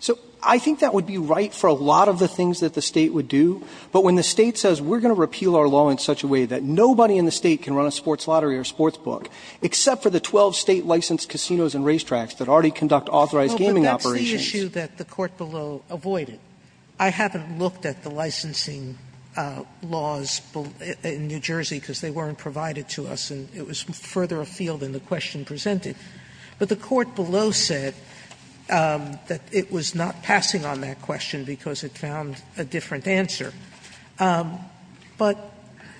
So I think that would be right for a lot of the things that the State would do. But when the State says we're going to repeal our law in such a way that nobody in the State can run a sports lottery or sports book, except for the 12 State licensed casinos and racetracks that already conduct authorized gaming operations. Sotomayor, but that's the issue that the court below avoided. I haven't looked at the licensing laws in New Jersey because they weren't provided to us, and it was further afield than the question presented. But the court below said that it was not passing on that question because it found a different answer. But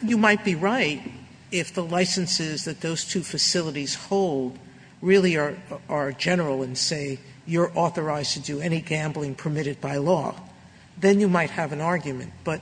you might be right if the licenses that those two facilities hold really are general and say you're authorized to do any gambling permitted by law. Then you might have an argument. But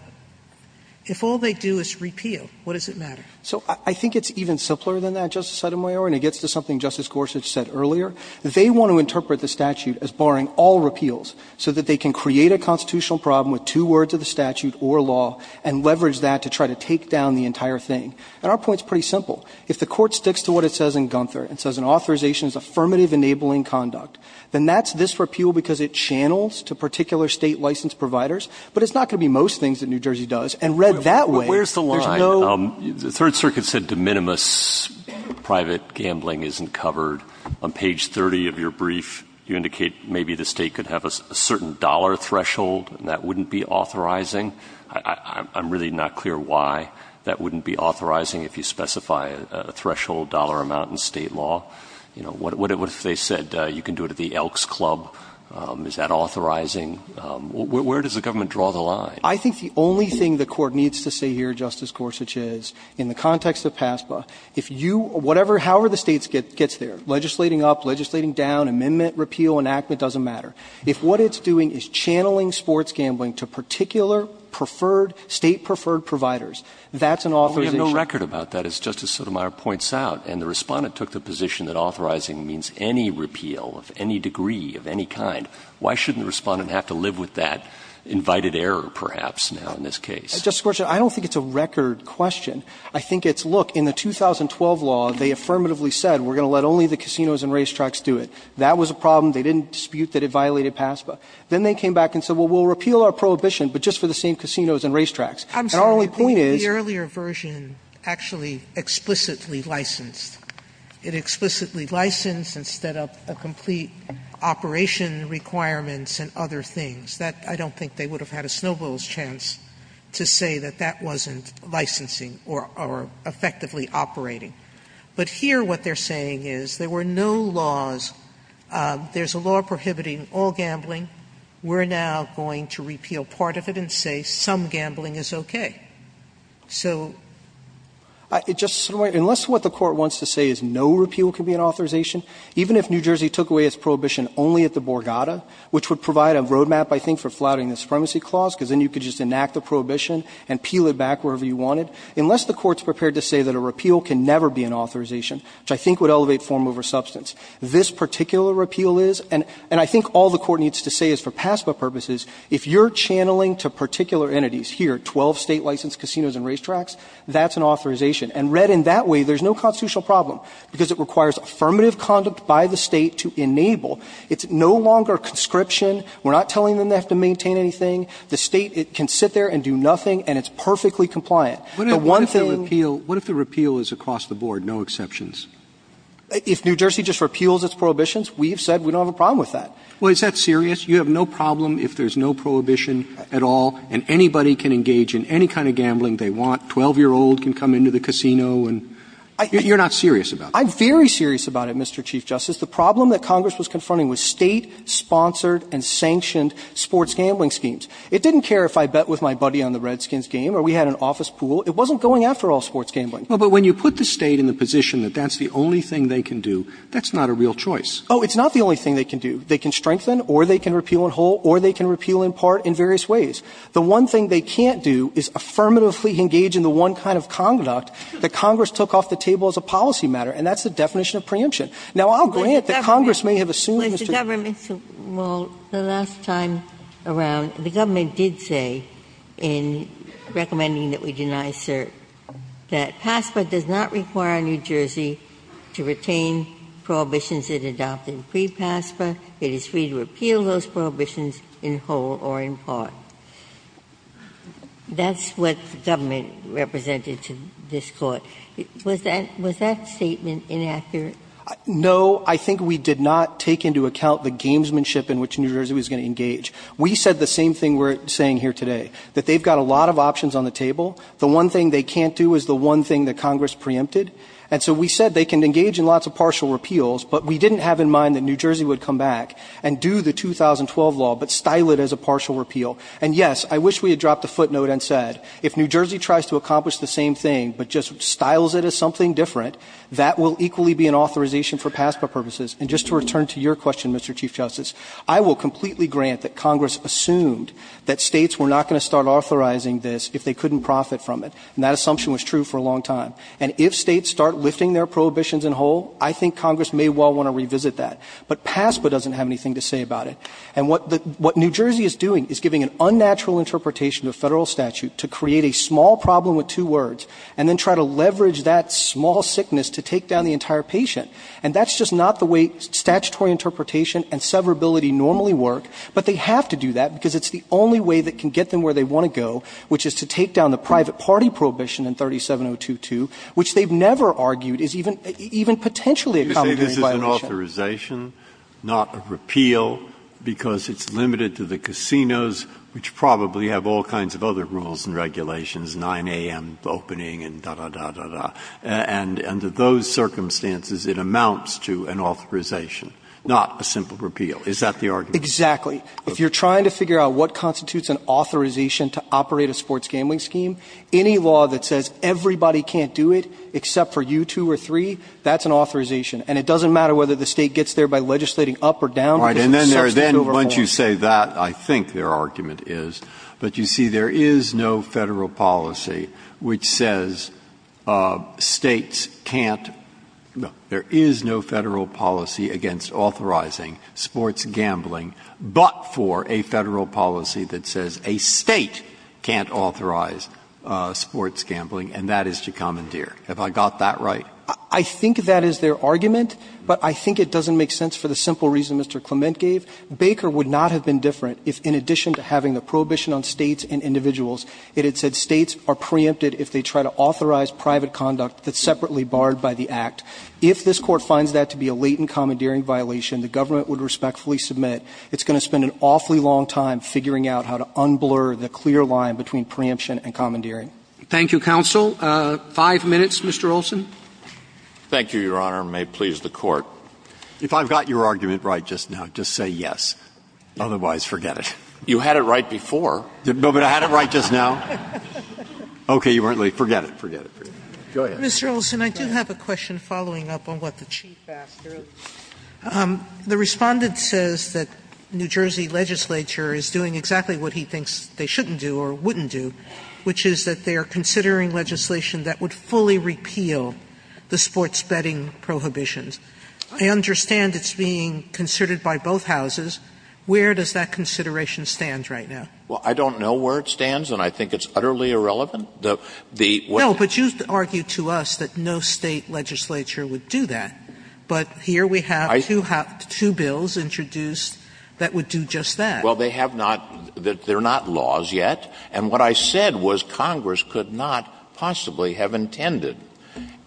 if all they do is repeal, what does it matter? So I think it's even simpler than that, Justice Sotomayor. And it gets to something Justice Gorsuch said earlier. They want to interpret the statute as barring all repeals so that they can create a constitutional problem with two words of the statute or law and leverage that to try to take down the entire thing. And our point is pretty simple. If the Court sticks to what it says in Gunther, it says an authorization is affirmative enabling conduct. Then that's this repeal because it channels to particular State licensed providers. But it's not going to be most things that New Jersey does. And read that way, there's no – The Third Circuit said de minimis private gambling isn't covered. On page 30 of your brief, you indicate maybe the State could have a certain dollar threshold and that wouldn't be authorizing. I'm really not clear why that wouldn't be authorizing if you specify a threshold dollar amount in State law. What if they said you can do it at the Elks Club? Is that authorizing? Where does the government draw the line? I think the only thing the Court needs to say here, Justice Gorsuch, is in the context of PASPA, if you – whatever, however the State gets there, legislating up, legislating down, amendment, repeal, enactment, doesn't matter. If what it's doing is channeling sports gambling to particular preferred State preferred providers, that's an authorization. But we have no record about that, as Justice Sotomayor points out. And the Respondent took the position that authorizing means any repeal of any degree, of any kind. Why shouldn't the Respondent have to live with that invited error, perhaps, now in this case? Gershengorn Just, Justice Gorsuch, I don't think it's a record question. I think it's, look, in the 2012 law, they affirmatively said, we're going to let only the casinos and racetracks do it. That was a problem. They didn't dispute that it violated PASPA. Then they came back and said, well, we'll repeal our prohibition, but just for the same casinos and racetracks. And our only point is – Sotomayor I'm sorry, I think the earlier version actually explicitly licensed. It explicitly licensed instead of a complete operation requirements and other things. That, I don't think they would have had a snowball's chance to say that that wasn't licensing or effectively operating. But here what they're saying is there were no laws, there's a law prohibiting all gambling. We're now going to repeal part of it and say some gambling is okay. So – Roberts Unless what the Court wants to say is no repeal can be an authorization, even if New Jersey took away its prohibition only at the Borgata, which would provide a roadmap, I think, for flouting the supremacy clause, because then you could just enact the prohibition and peel it back wherever you wanted. Unless the Court's prepared to say that a repeal can never be an authorization, which I think would elevate form over substance, this particular repeal is. And I think all the Court needs to say is for PASPA purposes, if you're channeling to particular entities here, 12 State-licensed casinos and racetracks, that's an authorization. And read in that way, there's no constitutional problem, because it requires affirmative conduct by the State to enable. It's no longer conscription. We're not telling them they have to maintain anything. The State can sit there and do nothing, and it's perfectly compliant. The one thing – Roberts What if the repeal is across the board, no exceptions? Fisher If New Jersey just repeals its prohibitions, we've said we don't have a problem with that. Roberts Well, is that serious? You have no problem if there's no prohibition at all, and anybody can engage in any kind of gambling they want. A 12-year-old can come into the casino and – you're not serious about that. Fisher I'm very serious about it, Mr. Chief Justice. The problem that Congress was confronting was State-sponsored and sanctioned sports gambling schemes. It didn't care if I bet with my buddy on the Redskins game or we had an office pool. It wasn't going after all sports gambling. Roberts But when you put the State in the position that that's the only thing they can do, that's not a real choice. Fisher Oh, it's not the only thing they can do. They can strengthen or they can repeal in whole or they can repeal in part in various ways. The one thing they can't do is affirmatively engage in the one kind of conduct that Congress took off the table as a policy matter, and that's the definition of preemption. Now, I'll grant that Congress may have assumed this to be the case. Ginsburg Well, the last time around, the government did say in recommending that we deny cert that PASPA does not require New Jersey to retain prohibitions it adopted pre-PASPA. It is free to repeal those prohibitions in whole or in part. That's what the government represented to this Court. Was that statement inaccurate? Fisher No. I think we did not take into account the gamesmanship in which New Jersey was going to engage. We said the same thing we're saying here today, that they've got a lot of options on the table. The one thing they can't do is the one thing that Congress preempted. And so we said they can engage in lots of partial repeals, but we didn't have in mind that New Jersey would come back and do the 2012 law but style it as a partial repeal. And, yes, I wish we had dropped a footnote and said if New Jersey tries to accomplish the same thing but just styles it as something different, that will equally be an authorization for PASPA purposes. And just to return to your question, Mr. Chief Justice, I will completely grant that Congress assumed that states were not going to start authorizing this if they couldn't profit from it. And that assumption was true for a long time. And if states start lifting their prohibitions in whole, I think Congress may well want to revisit that. But PASPA doesn't have anything to say about it. And what New Jersey is doing is giving an unnatural interpretation of Federal statute to create a small problem with two words and then try to leverage that small sickness to take down the entire patient. And that's just not the way statutory interpretation and severability normally work. But they have to do that because it's the only way that can get them where they want to go, which is to take down the private party prohibition in 37022, which they've never argued is even potentially a commentary violation. So it's an authorization, not a repeal, because it's limited to the casinos, which probably have all kinds of other rules and regulations, 9 a.m. opening and da, da, da, da, da. And under those circumstances, it amounts to an authorization, not a simple repeal. Is that the argument? Exactly. If you're trying to figure out what constitutes an authorization to operate a sports gambling scheme, any law that says everybody can't do it except for you two or three, that's an authorization. And it doesn't matter whether the State gets there by legislating up or down. Right. And then there's then, once you say that, I think their argument is. But you see, there is no Federal policy which says States can't no, there is no Federal policy against authorizing sports gambling, but for a Federal policy that says a State can't authorize sports gambling, and that is to commandeer. Have I got that right? I think that is their argument, but I think it doesn't make sense for the simple reason Mr. Clement gave. Baker would not have been different if, in addition to having the prohibition on States and individuals, it had said States are preempted if they try to authorize private conduct that's separately barred by the Act. If this Court finds that to be a latent commandeering violation, the government would respectfully submit. It's going to spend an awfully long time figuring out how to unblur the clear line between preemption and commandeering. Thank you, counsel. Five minutes, Mr. Olson. Olson. Thank you, Your Honor, and may it please the Court. If I've got your argument right just now, just say yes. Otherwise, forget it. You had it right before. No, but I had it right just now. Okay. You weren't late. Forget it. Forget it. Go ahead. Mr. Olson, I do have a question following up on what the Chief asked, sir. The Respondent says that New Jersey legislature is doing exactly what he thinks they shouldn't do or wouldn't do, which is that they are considering legislation that would fully repeal the sports betting prohibitions. I understand it's being considered by both houses. Where does that consideration stand right now? Well, I don't know where it stands, and I think it's utterly irrelevant. The question is the State legislature would do that, but here we have two bills introduced that would do just that. Well, they have not – they're not laws yet. And what I said was Congress could not possibly have intended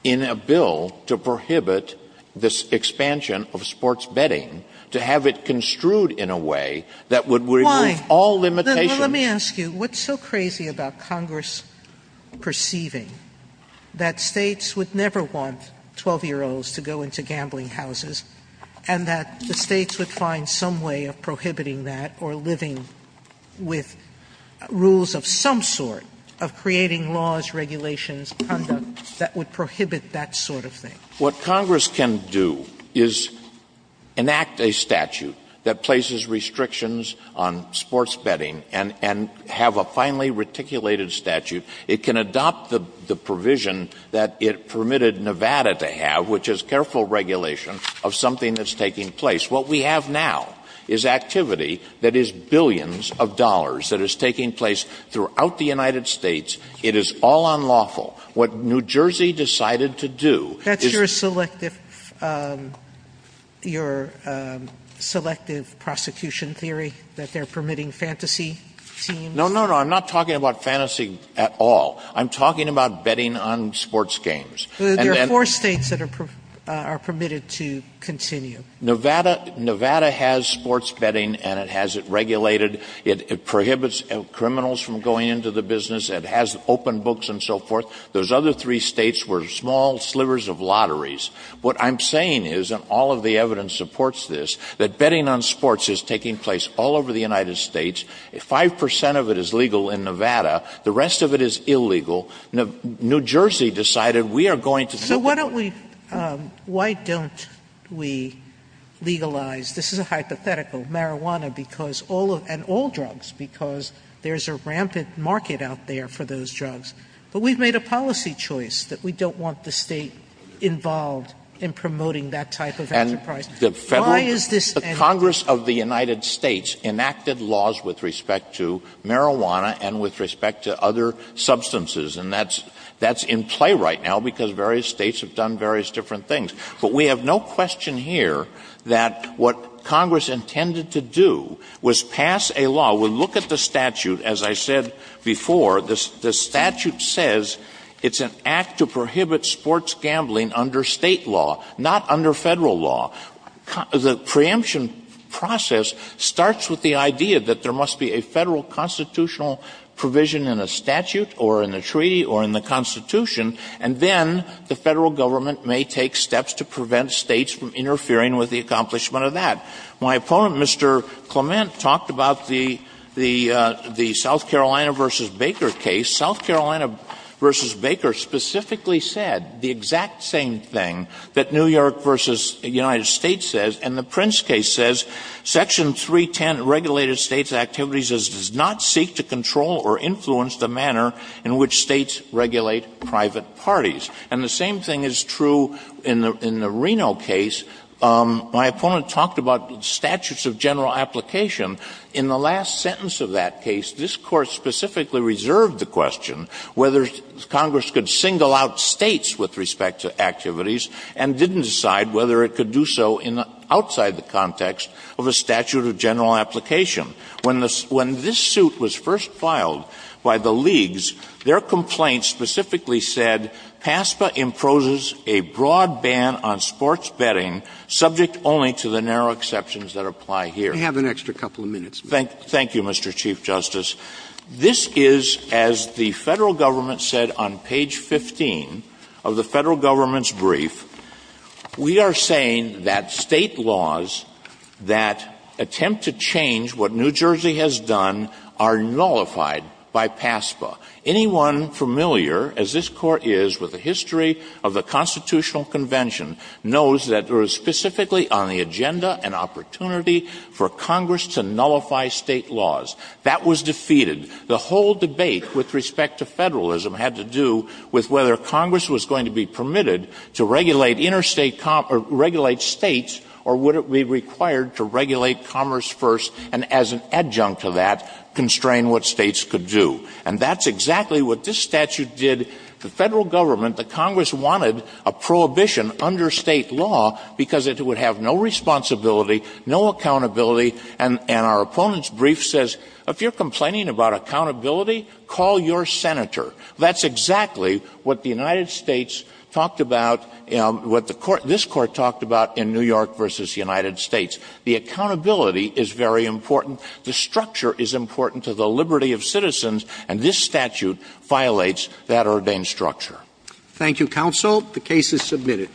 in a bill to prohibit this expansion of sports betting, to have it construed in a way that would remove all limitations. Let me ask you, what's so crazy about Congress perceiving that States would never want 12-year-olds to go into gambling houses and that the States would find some way of prohibiting that or living with rules of some sort of creating laws, regulations, conduct, that would prohibit that sort of thing? What Congress can do is enact a statute that places restrictions on sports betting and have a finely reticulated statute. It can adopt the provision that it permitted Nevada to have, which is careful regulation of something that's taking place. What we have now is activity that is billions of dollars that is taking place throughout the United States. It is all unlawful. What New Jersey decided to do is – That's your selective – your selective prosecution theory that they're permitting fantasy teams? No, no, no. I'm not talking about fantasy at all. I'm talking about betting on sports games. There are four States that are permitted to continue. Nevada – Nevada has sports betting and it has it regulated. It prohibits criminals from going into the business. It has open books and so forth. Those other three States were small slivers of lotteries. What I'm saying is, and all of the evidence supports this, that betting on sports is taking place all over the United States. Five percent of it is legal in Nevada. New Jersey decided we are going to – So why don't we – why don't we legalize – this is a hypothetical – marijuana because all of – and all drugs because there's a rampant market out there for those drugs. But we've made a policy choice that we don't want the State involved in promoting that type of enterprise. And the Federal – Why is this – The Congress of the United States enacted laws with respect to marijuana and with respect to other substances. And that's – that's in play right now because various States have done various different things. But we have no question here that what Congress intended to do was pass a law. We'll look at the statute. As I said before, the statute says it's an act to prohibit sports gambling under State law, not under Federal law. The preemption process starts with the idea that there must be a Federal constitutional provision in a statute or in a treaty or in the Constitution, and then the Federal government may take steps to prevent States from interfering with the accomplishment of that. My opponent, Mr. Clement, talked about the – the South Carolina v. Baker case. South Carolina v. Baker specifically said the exact same thing that New York v. United States says, and the Prince case says, Section 310, Regulated States Activities as does not seek to control or influence the manner in which States regulate private parties. And the same thing is true in the – in the Reno case. My opponent talked about statutes of general application. In the last sentence of that case, this Court specifically reserved the question whether Congress could single out States with respect to activities and didn't decide whether it could do so in the – outside the context of a statute of general application. When the – when this suit was first filed by the leagues, their complaint specifically said, PASPA imposes a broad ban on sports betting subject only to the narrow exceptions that apply here. We have an extra couple of minutes. Thank – thank you, Mr. Chief Justice. This is, as the Federal government said on page 15 of the Federal government's that attempt to change what New Jersey has done are nullified by PASPA. Anyone familiar, as this Court is, with the history of the Constitutional Convention knows that it was specifically on the agenda an opportunity for Congress to nullify State laws. That was defeated. The whole debate with respect to Federalism had to do with whether Congress was going to be permitted to regulate interstate – or regulate States, or would it be required to regulate commerce first and as an adjunct to that constrain what States could do. And that's exactly what this statute did to Federal government. The Congress wanted a prohibition under State law because it would have no responsibility, no accountability. And our opponent's brief says, if you're complaining about accountability, call your senator. That's exactly what the United States talked about – what the Court – this Court talked about in New York v. United States. The accountability is very important. The structure is important to the liberty of citizens, and this statute violates that ordained structure. Thank you, counsel. The case is submitted.